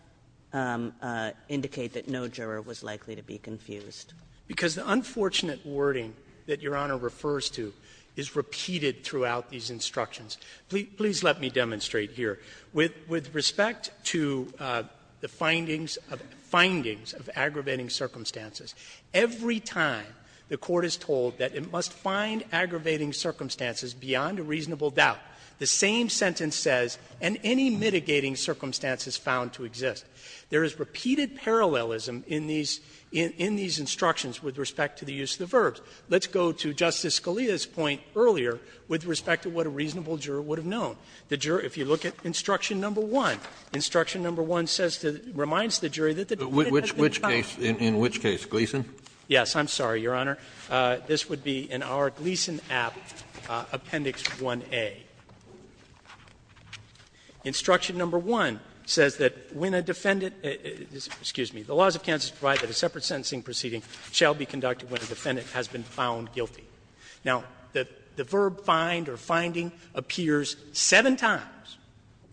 indicate that no juror was likely to be confused? Because the unfortunate wording that Your Honor refers to is repeated throughout these instructions. Please let me demonstrate here. With respect to the findings of aggravating circumstances, every time the Court is told that it must find aggravating circumstances beyond a reasonable doubt, the same sentence says, and any mitigating circumstances found to exist. There is repeated parallelism in these instructions with respect to the use of the verbs. Let's go to Justice Scalia's point earlier with respect to what a reasonable juror would have known. The juror, if you look at instruction number 1, instruction number 1 says, reminds the jury that the defendant has been found. Kennedy, in which case? Gleeson? Yes. I'm sorry, Your Honor. This would be in our Gleeson app, appendix 1A. Instruction number 1 says that when a defendant — excuse me — the laws of Kansas provide that a separate sentencing proceeding shall be conducted when a defendant has been found guilty. Now, the verb find or finding appears seven times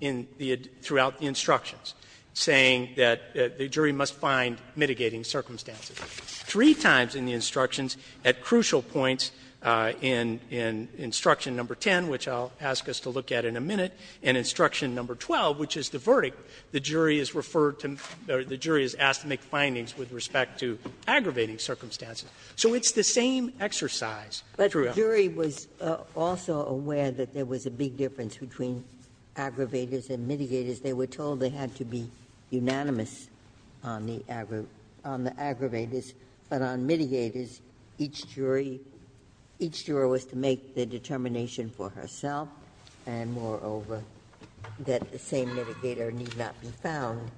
in the — throughout the instructions, saying that the jury must find mitigating circumstances. Three times in the instructions, at crucial points in instruction number 10, which I'll ask us to look at in a minute, and instruction number 12, which is the verdict, the jury is referred to — the jury is asked to make findings with respect to aggravating circumstances. So it's the same exercise throughout. But the jury was also aware that there was a big difference between aggravators and mitigators. They were told they had to be unanimous on the aggravators, but on mitigators, each jury — each juror was to make the determination for herself, and moreover, that the same mitigator need not be found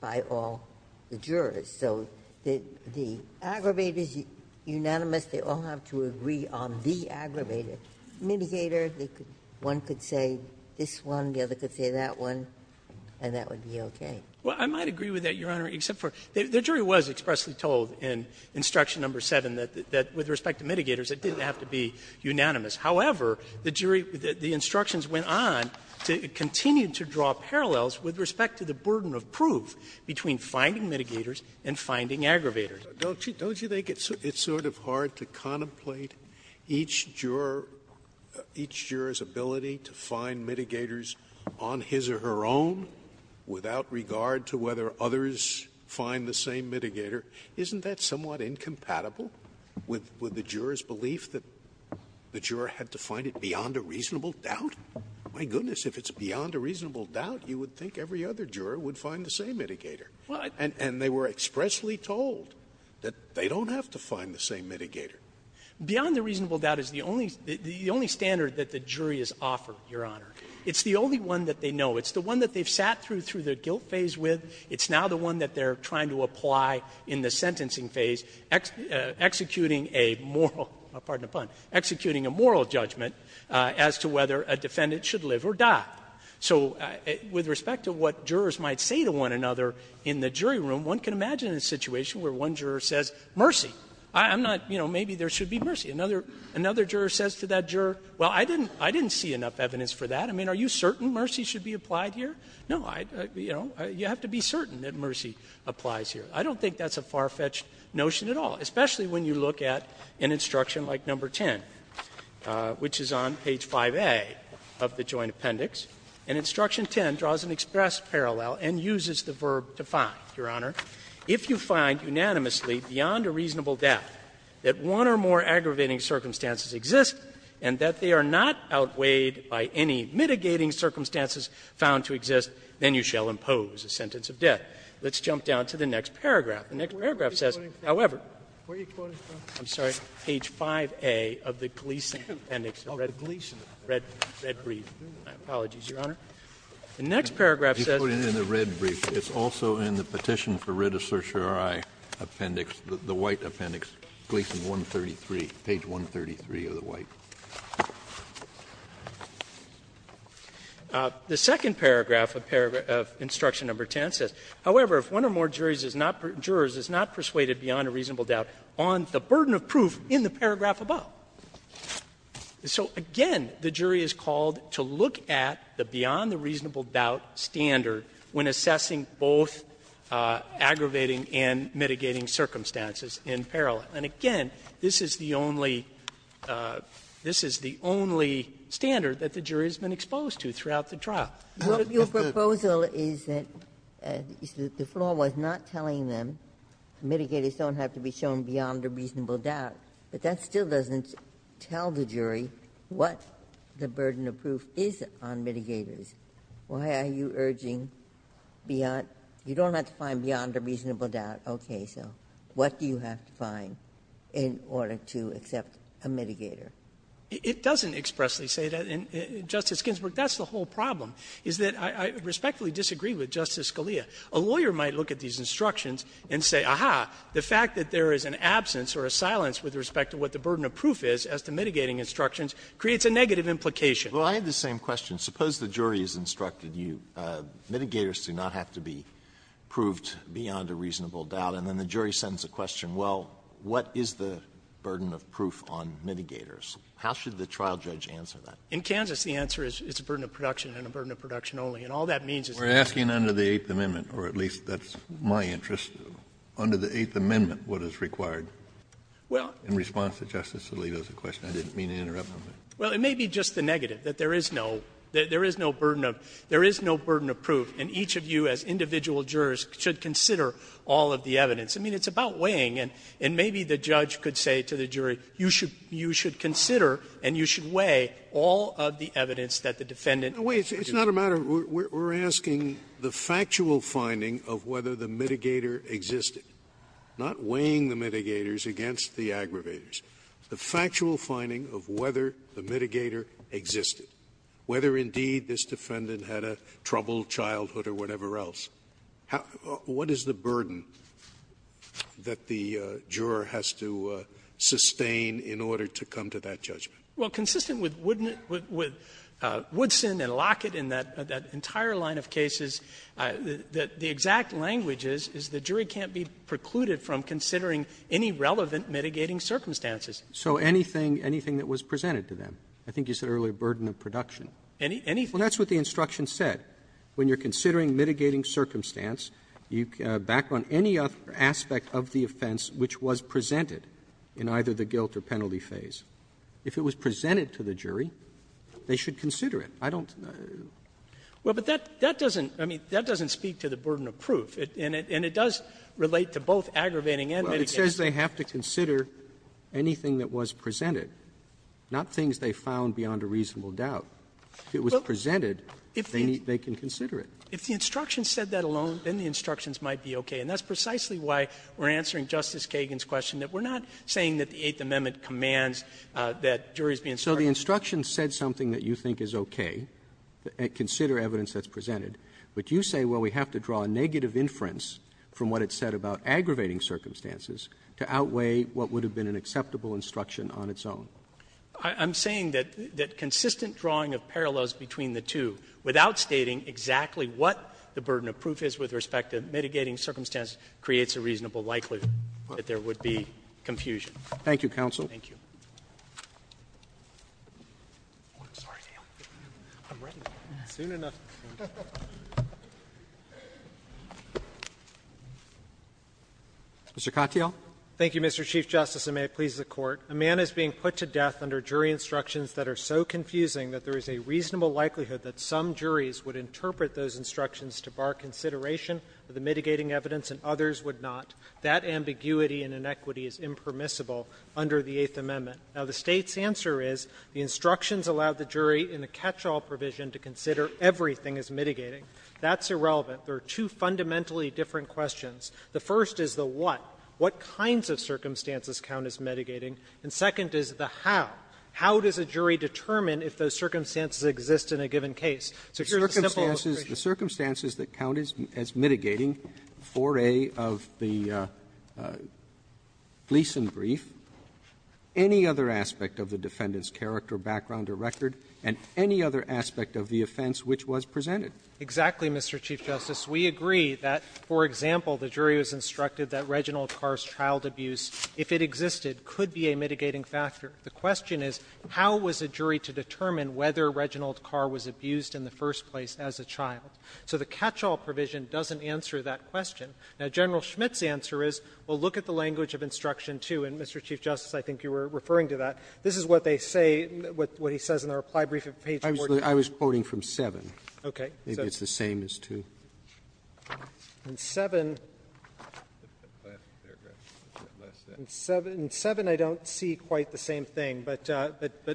by all the jurors. So the aggravators, unanimous, they all have to agree on the aggravator. Ginsburg, one could say this one, the other could say that one, and that would be okay. Well, I might agree with that, Your Honor, except for the jury was expressly told in instruction number 7 that with respect to mitigators, it didn't have to be unanimous. However, the jury, the instructions went on to continue to draw parallels with respect to the burden of proof between finding mitigators and finding aggravators. Scalia. Don't you think it's sort of hard to contemplate each juror's ability to find mitigators on his or her own without regard to whether others find the same mitigator? Isn't that somewhat incompatible with the juror's belief that the juror had to find it beyond a reasonable doubt? My goodness, if it's beyond a reasonable doubt, you would think every other juror would find the same mitigator. And they were expressly told. They don't have to find the same mitigator. Beyond a reasonable doubt is the only standard that the jury has offered, Your Honor. It's the only one that they know. It's the one that they've sat through the guilt phase with. It's now the one that they're trying to apply in the sentencing phase, executing a moral judgment as to whether a defendant should live or die. So with respect to what jurors might say to one another in the jury room, one can say that one juror says, mercy, I'm not, you know, maybe there should be mercy. Another juror says to that juror, well, I didn't see enough evidence for that. I mean, are you certain mercy should be applied here? No, I, you know, you have to be certain that mercy applies here. I don't think that's a far-fetched notion at all, especially when you look at an instruction like number 10, which is on page 5A of the Joint Appendix. And instruction 10 draws an express parallel and uses the verb to find, Your Honor. If you find unanimously beyond a reasonable doubt that one or more aggravating circumstances exist and that they are not outweighed by any mitigating circumstances found to exist, then you shall impose a sentence of death. Let's jump down to the next paragraph. The next paragraph says, however, I'm sorry, page 5A of the Gleeson appendix. The next paragraph says. Kennedy, in the red brief, it's also in the petition for writ of certiorari appendix, the white appendix, Gleeson 133, page 133 of the white. The second paragraph of instruction number 10 says, however, if one or more jurors is not persuaded beyond a reasonable doubt on the burden of proof in the paragraph above. So, again, the jury is called to look at the beyond the reasonable doubt standard when assessing both aggravating and mitigating circumstances in parallel. And, again, this is the only standard that the jury has been exposed to throughout Ginsburg. Ginsburg. Ginsburg. Your proposal is that the flaw was not telling them, mitigators don't have to be shown beyond a reasonable doubt, but that still doesn't tell the jury what the burden of proof is on mitigators. Why are you urging beyond you don't have to find beyond a reasonable doubt, okay. So what do you have to find in order to accept a mitigator? It doesn't expressly say that. And, Justice Ginsburg, that's the whole problem, is that I respectfully disagree with Justice Scalia. A lawyer might look at these instructions and say, aha, the fact that there is an absence or a silence with respect to what the burden of proof is as to mitigating instructions creates a negative implication. Well, I have the same question. Suppose the jury has instructed you, mitigators do not have to be proved beyond a reasonable doubt, and then the jury sends a question, well, what is the burden of proof on mitigators? How should the trial judge answer that? In Kansas, the answer is it's a burden of production and a burden of production only. And all that means is that we're asking under the Eighth Amendment, or at least that's my interest, under the Eighth Amendment what is required. Well, in response to Justice Alito's question, I didn't mean to interrupt him. Well, it may be just the negative, that there is no burden of proof, and each of you as individual jurors should consider all of the evidence. I mean, it's about weighing, and maybe the judge could say to the jury, you should consider and you should weigh all of the evidence that the defendant has proved. Scalia, it's not a matter of we're asking the factual finding of whether the mitigator existed, not weighing the mitigators against the aggravators, the factual finding of whether the mitigator existed, whether, indeed, this defendant had a troubled childhood or whatever else. What is the burden that the juror has to sustain in order to come to that judgment? Well, consistent with Woodson and Lockett and that entire line of cases, the exact language is, is the jury can't be precluded from considering any relevant mitigating circumstances. So anything, anything that was presented to them? I think you said earlier burden of production. Anything? Well, that's what the instruction said. When you're considering mitigating circumstance, you back on any aspect of the offense which was presented in either the guilt or penalty phase. If it was presented to the jury, they should consider it. I don't know. Well, but that doesn't, I mean, that doesn't speak to the burden of proof. And it does relate to both aggravating and mitigating. It says they have to consider anything that was presented, not things they found beyond a reasonable doubt. If it was presented, they can consider it. If the instruction said that alone, then the instructions might be okay. And that's precisely why we're answering Justice Kagan's question, that we're not saying that the Eighth Amendment commands that juries be instructed. So the instruction said something that you think is okay, consider evidence that's presented. But you say, well, we have to draw a negative inference from what it said about aggravating circumstances to outweigh what would have been an acceptable instruction on its own. I'm saying that consistent drawing of parallels between the two, without stating exactly what the burden of proof is with respect to mitigating circumstance, creates a reasonable likelihood that there would be confusion. Thank you, counsel. Thank you. Mr. Katyal. Thank you, Mr. Chief Justice, and may it please the Court. A man is being put to death under jury instructions that are so confusing that there is a reasonable likelihood that some juries would interpret those instructions to bar consideration of the mitigating evidence and others would not. That ambiguity and inequity is impermissible under the Eighth Amendment. Now, the State's answer is the instructions allow the jury in the catch-all provision to consider everything as mitigating. That's irrelevant. There are two fundamentally different questions. The first is the what. What kinds of circumstances count as mitigating? And second is the how. How does a jury determine if those circumstances exist in a given case? So here's a simple equation. The circumstances that count as mitigating, 4A of the lease in brief, any other aspect of the defendant's character, background, or record, and any other aspect of the offense which was presented. Exactly, Mr. Chief Justice. We agree that, for example, the jury was instructed that Reginald Carr's child abuse, if it existed, could be a mitigating factor. The question is how was a jury to determine whether Reginald Carr was abused in the first place as a child? So the catch-all provision doesn't answer that question. Now, General Schmidt's answer is, well, look at the language of instruction too. And, Mr. Chief Justice, I think you were referring to that. This is what they say, what he says in the reply brief at page 14. I was quoting from 7. Okay. Maybe it's the same as 2. In 7, in 7, I don't see quite the same thing. But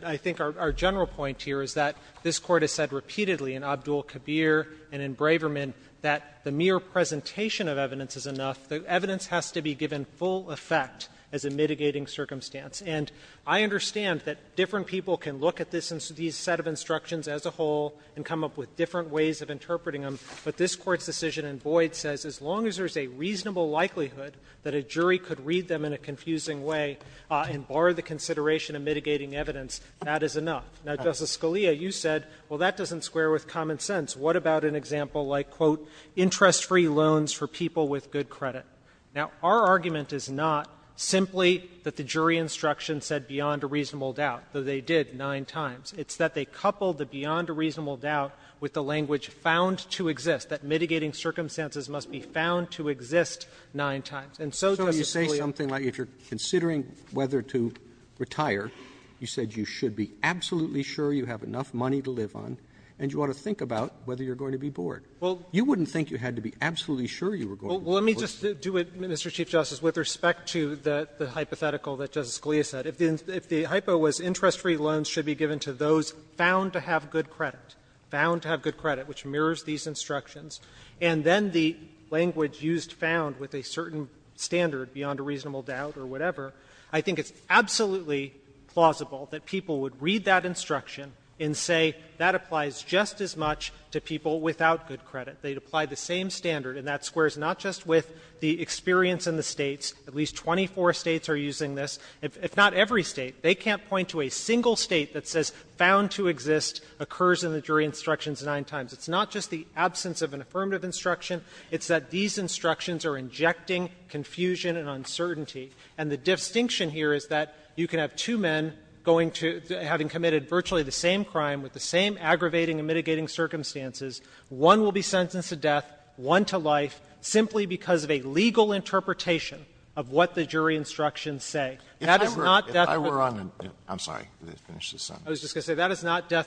I think our general point here is that this Court has said repeatedly in Abdul-Kabir and in Braverman that the mere presentation of evidence is enough. The evidence has to be given full effect as a mitigating circumstance. And I understand that different people can look at this set of instructions as a whole and come up with different ways of interpreting them, but this Court's decision in Boyd says as long as there's a reasonable likelihood that a jury could read them in a confusing way and bar the consideration of mitigating evidence, that is enough. Now, Justice Scalia, you said, well, that doesn't square with common sense. What about an example like, quote, interest-free loans for people with good credit? Now, our argument is not simply that the jury instruction said beyond a reasonable doubt, though they did nine times. It's that they coupled the beyond a reasonable doubt with the language found to exist, that mitigating circumstances must be found to exist nine times. And so, Justice Scalia, I think that's the case. If you're considering whether to retire, you said you should be absolutely sure you have enough money to live on, and you ought to think about whether you're going to be bored. You wouldn't think you had to be absolutely sure you were going to be bored. Fisherman, Well, let me just do it, Mr. Chief Justice, with respect to the hypothetical that Justice Scalia said. If the hypo was interest-free loans should be given to those found to have good credit, found to have good credit, which mirrors these instructions, and then the language used found with a certain standard beyond a reasonable doubt or whatever, I think it's absolutely plausible that people would read that instruction and say that applies just as much to people without good credit. They'd apply the same standard, and that squares not just with the experience in the States. At least 24 States are using this. If not every State, they can't point to a single State that says found to exist occurs in the jury instructions nine times. It's not just the absence of an affirmative instruction. It's that these instructions are injecting confusion and uncertainty. And the distinction here is that you can have two men going to the — having committed virtually the same crime with the same aggravating and mitigating circumstances. One will be sentenced to death, one to life, simply because of a legal interpretation of what the jury instructions say. That is not death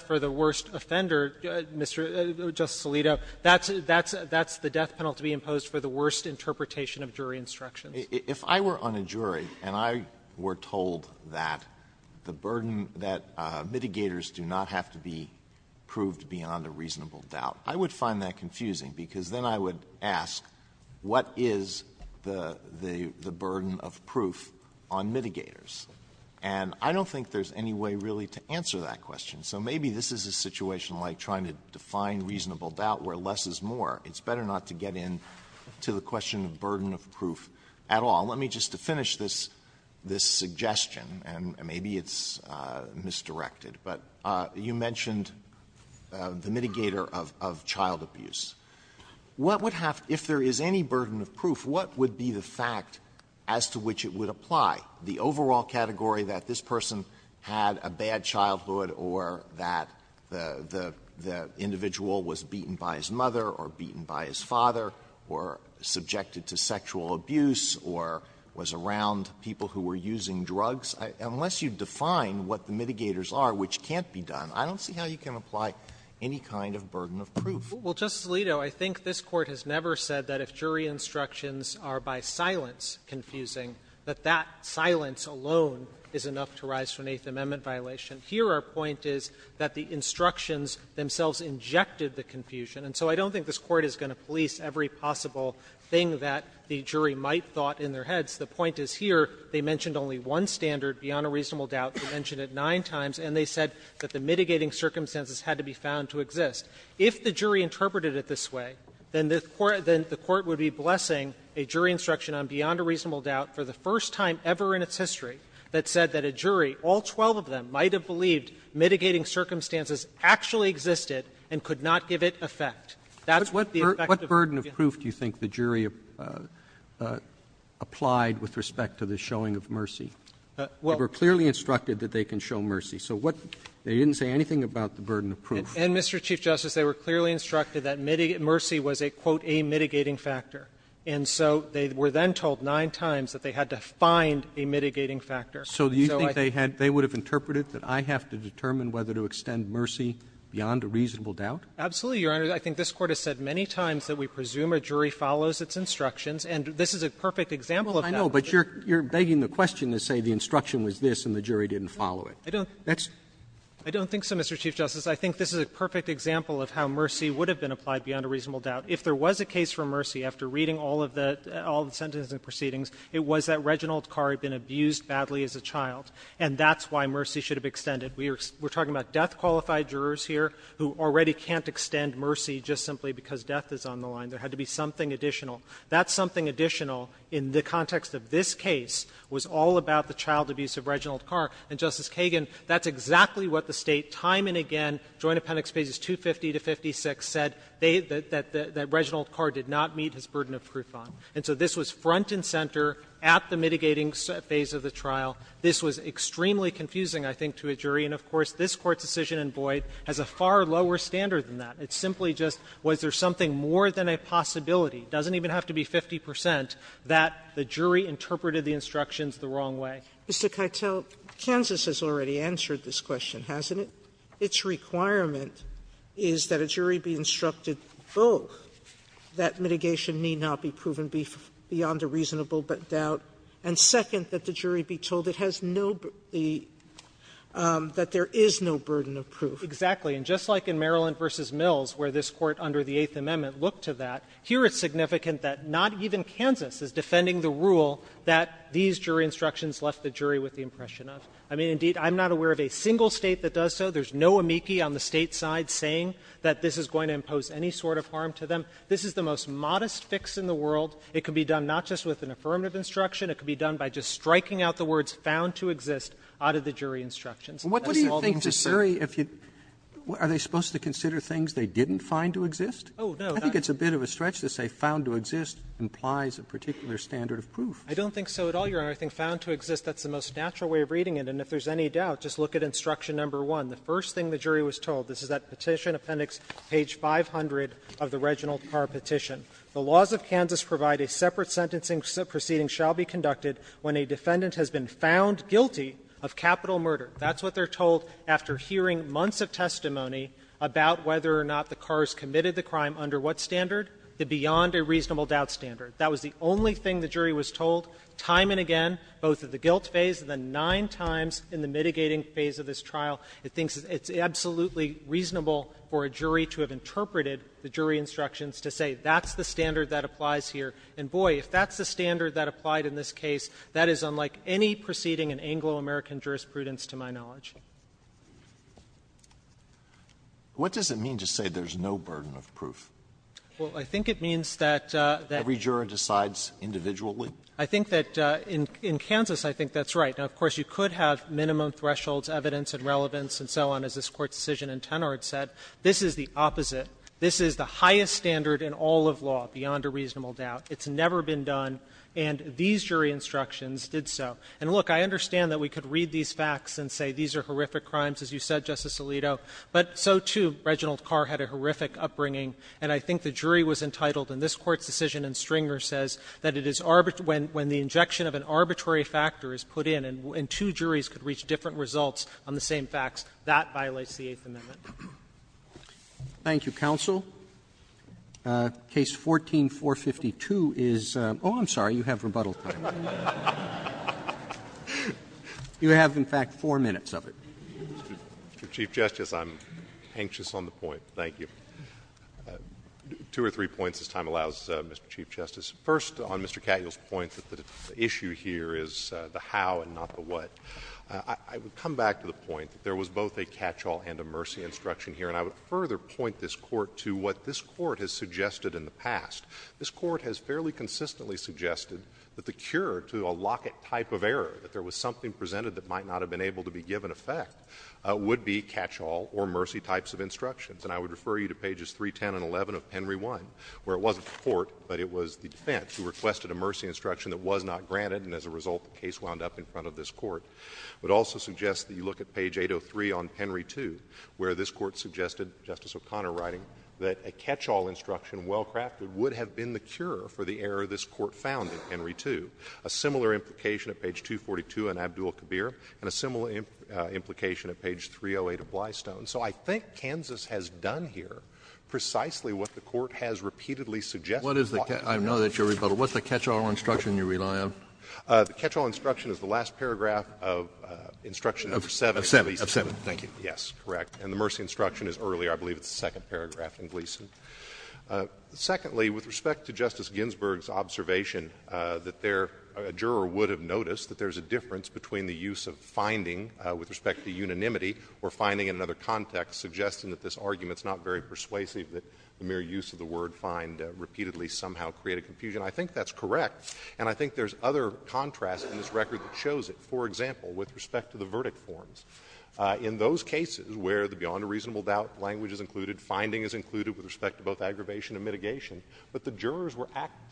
for the worst offender, Mr. — Justice Alito, that's the death penalty imposed for the worst interpretation of jury instructions. Alito, if I were on a jury and I were told that the burden that mitigators do not have to be proved beyond a reasonable doubt, I would find that confusing, because then I would ask what is the burden of proof on mitigators. And I don't think there's any way really to answer that question. So maybe this is a situation like trying to define reasonable doubt where less is more. It's better not to get into the question of burden of proof at all. Let me just finish this — this suggestion, and maybe it's misdirected. But you mentioned the mitigator of — of child abuse. What would have — if there is any burden of proof, what would be the fact as to which it would apply, the overall category that this person had a bad childhood or that the — the individual was beaten by his mother or beaten by his father or subjected to sexual abuse or was around people who were using drugs? Unless you define what the mitigators are, which can't be done, I don't see how you can apply any kind of burden of proof. Well, Justice Alito, I think this Court has never said that if jury instructions are by silence confusing, that that silence alone is enough to rise to an Eighth Amendment violation. Here, our point is that the instructions themselves injected the confusion. And so I don't think this Court is going to police every possible thing that the jury might thought in their heads. The point is here, they mentioned only one standard, beyond a reasonable doubt. They mentioned it nine times, and they said that the mitigating circumstances had to be found to exist. If the jury interpreted it this way, then the court — then the court would be blessing a jury instruction on beyond a reasonable doubt for the first time ever in its history that said that a jury, all 12 of them, might have believed mitigating circumstances actually existed and could not give it effect. That's what the effect of the — What burden of proof do you think the jury applied with respect to the showing of mercy? Well — They were clearly instructed that they can show mercy. So what — they didn't say anything about the burden of proof. And, Mr. Chief Justice, they were clearly instructed that mercy was a, quote, a mitigating factor. And so they were then told nine times that they had to find a mitigating factor. So you think they had — they would have interpreted that, I have to determine whether to extend mercy beyond a reasonable doubt? Absolutely, Your Honor. I think this Court has said many times that we presume a jury follows its instructions, and this is a perfect example of that. Well, I know, but you're — you're begging the question to say the instruction was this and the jury didn't follow it. I don't — That's — I don't think so, Mr. Chief Justice. I think this is a perfect example of how mercy would have been applied beyond a reasonable doubt. If there was a case for mercy, after reading all of the — all the sentencing proceedings, it was that Reginald Carr had been abused badly as a child. And that's why mercy should have extended. We are — we're talking about death-qualified jurors here who already can't extend mercy just simply because death is on the line. There had to be something additional. That something additional in the context of this case was all about the child abuse of Reginald Carr. And, Justice Kagan, that's exactly what the State time and again, Joint Appendix pages 250 to 56 said, they — that — that Reginald Carr did not meet his burden of proof on. And so this was front and center at the mitigating phase of the trial. This was extremely confusing, I think, to a jury. And, of course, this Court's decision in Boyd has a far lower standard than that. It's simply just was there something more than a possibility, doesn't even have to be 50 percent, that the jury interpreted the instructions the wrong way. Sotomayor, Mr. Keitel, Kansas has already answered this question, hasn't it? Its requirement is that a jury be instructed both that mitigation need not be proven beyond a reasonable doubt, and second, that the jury be told it has no — that there is no burden of proof. Exactly. And just like in Maryland v. Mills, where this Court under the Eighth Amendment looked to that, here it's significant that not even Kansas is defending the rule that these jury instructions left the jury with the impression of. I mean, indeed, I'm not aware of a single State that does so. There's no amici on the State side saying that this is going to impose any sort of harm to them. This is the most modest fix in the world. It can be done not just with an affirmative instruction. It can be done by just striking out the words found to exist out of the jury instructions. That's all there is to say. What do you think, Mr. Suri, if you — are they supposed to consider things they didn't find to exist? Oh, no. I think it's a bit of a stretch to say found to exist implies a particular standard of proof. I don't think so at all, Your Honor. I think found to exist, that's the most natural way of reading it. And if there's any doubt, just look at instruction number one. The first thing the jury was told — this is that Petition Appendix, page 500 of the Reginald Carr Petition. The laws of Kansas provide a separate sentencing proceeding shall be conducted when a defendant has been found guilty of capital murder. That's what they're told after hearing months of testimony about whether or not the cars committed the crime under what standard? The beyond-a-reasonable-doubt standard. That was the only thing the jury was told, time and again, both at the guilt phase and the nine times in the mitigating phase of this trial. It thinks it's absolutely reasonable for a jury to have interpreted the jury instructions to say that's the standard that applies here. And, boy, if that's the standard that applied in this case, that is unlike any proceeding in Anglo-American jurisprudence to my knowledge. What does it mean to say there's no burden of proof? Well, I think it means that — Every juror decides individually. I think that in Kansas, I think that's right. Now, of course, you could have minimum thresholds, evidence and relevance, and so on, as this Court's decision in Tenard said. This is the opposite. This is the highest standard in all of law, beyond a reasonable doubt. It's never been done. And these jury instructions did so. And, look, I understand that we could read these facts and say these are horrific crimes, as you said, Justice Alito, but so, too, Reginald Carr had a horrific upbringing, and I think the jury was entitled, and this Court's decision in Stringer says, that it is when the injection of an arbitrary factor is put in and two juries could reach different results on the same facts, that violates the Eighth Amendment. Roberts. Thank you, counsel. Case 14-452 is — oh, I'm sorry, you have rebuttal time. You have, in fact, four minutes of it. Chief Justice, I'm anxious on the point. Thank you. Two or three points, as time allows, Mr. Chief Justice. First, on Mr. Catyel's point that the issue here is the how and not the what, I would come back to the point that there was both a catch-all and a mercy instruction here, and I would further point this Court to what this Court has suggested in the past. This Court has fairly consistently suggested that the cure to a locket type of error, that there was something presented that might not have been able to be given effect, would be catch-all or mercy types of instructions. And I would refer you to pages 310 and 11 of Penry 1, where it wasn't the Court, but it was the defense, who requested a mercy instruction that was not granted, and as a result, the case wound up in front of this Court. It would also suggest that you look at page 803 on Penry 2, where this Court suggested, Justice O'Connor writing, that a catch-all instruction well-crafted would have been the cure for the error this Court found in Penry 2. A similar implication at page 242 on Abdul-Kabir, and a similar implication at page 308 of Blystone. So I think Kansas has done here precisely what the Court has repeatedly suggested. Kennedy, I know that you're rebuttal. What's the catch-all instruction you rely on? The catch-all instruction is the last paragraph of instruction number 7. Of 7, thank you. Yes, correct. And the mercy instruction is earlier. I believe it's the second paragraph in Gleeson. Secondly, with respect to Justice Ginsburg's observation that there, a juror would have noticed that there's a difference between the use of finding, with respect to unanimity, or finding in another context, suggesting that this argument's not very persuasive, that the mere use of the word find repeatedly somehow created confusion, I think that's correct. And I think there's other contrast in this record that shows it. For example, with respect to the verdict forms. In those cases where the beyond a reasonable doubt language is included, finding is included with respect to both aggravation and mitigation, but the jurors were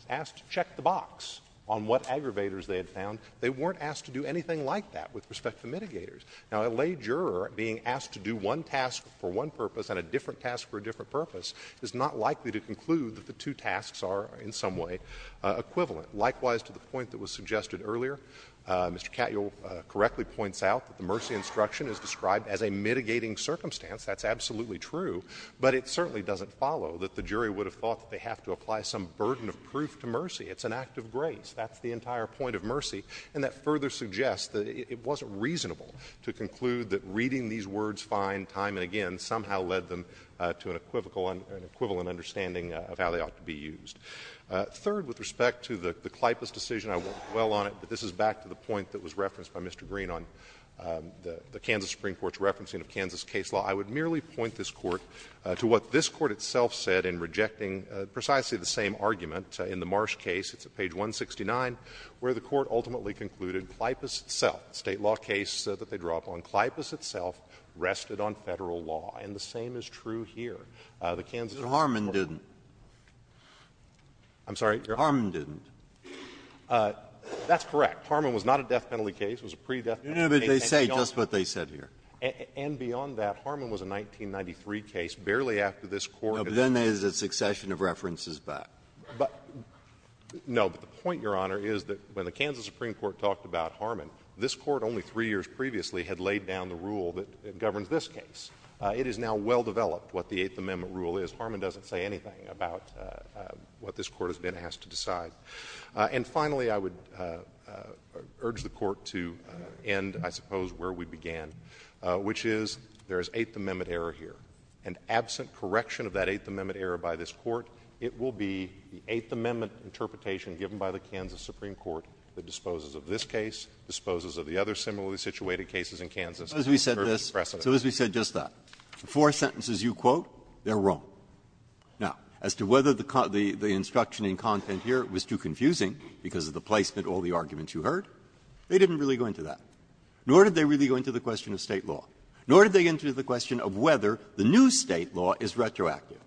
asked to check the box on what aggravators they had found. They weren't asked to do anything like that with respect to mitigators. Now, a lay juror being asked to do one task for one purpose and a different task for a different purpose is not likely to conclude that the two tasks are in some way equivalent. Likewise, to the point that was suggested earlier, Mr. Katyal correctly points out that the mercy instruction is described as a mitigating circumstance. That's absolutely true. But it certainly doesn't follow that the jury would have thought that they have to apply some burden of proof to mercy. It's an act of grace. That's the entire point of mercy. And that further suggests that it wasn't reasonable to conclude that reading these words fine time and again somehow led them to an equivocal and equivalent understanding of how they ought to be used. Third, with respect to the Klypas decision, I won't dwell on it, but this is back to the point that was referenced by Mr. Green on the Kansas Supreme Court's referencing of Kansas case law. I would merely point this Court to what this Court itself said in rejecting precisely the same argument in the Marsh case. It's at page 169, where the Court ultimately concluded Klypas itself, State law case, said that they draw upon Klypas itself, rested on Federal law. And the same is true here. The Kansas Supreme Court ---- Breyer. Harman didn't. I'm sorry, Your Honor. Harman didn't. That's correct. Harman was not a death penalty case. It was a pre-death penalty case. And beyond that, Harman was a 1993 case, barely after this Court ---- No, but then there's a succession of references back. No, but the point, Your Honor, is that when the Kansas Supreme Court talked about Harman, this Court only three years previously had laid down the rule that governs this case. It is now well developed what the Eighth Amendment rule is. Harman doesn't say anything about what this Court has been asked to decide. And finally, I would urge the Court to end, I suppose, where we began, which is there is Eighth Amendment error here. And absent correction of that Eighth Amendment error by this Court, it will be the Eighth Amendment interpretation given by the Kansas Supreme Court that disposes of this case, disposes of the other similarly situated cases in Kansas. It's a perfect precedent. Breyer. So as we said just that, the four sentences you quote, they're wrong. Now, as to whether the instruction in content here was too confusing because of the placement of all the arguments you heard, they didn't really go into that, nor did they really go into the question of State law, nor did they go into the question of whether the new State law is retroactive.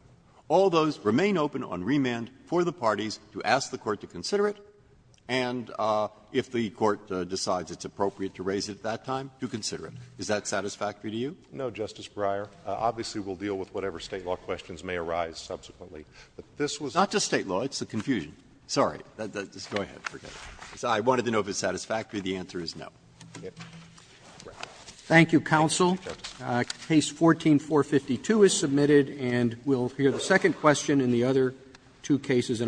All those remain open on remand for the parties to ask the Court to consider it, and if the Court decides it's appropriate to raise it at that time, to consider it. Is that satisfactory to you? No, Justice Breyer. Obviously, we'll deal with whatever State law questions may arise subsequently. But this was a confusion. Not just State law, it's a confusion. Sorry. I wanted to know if it's satisfactory. The answer is no. Thank you, counsel. Case 14-452 is submitted, and we'll hear the second question and the other two cases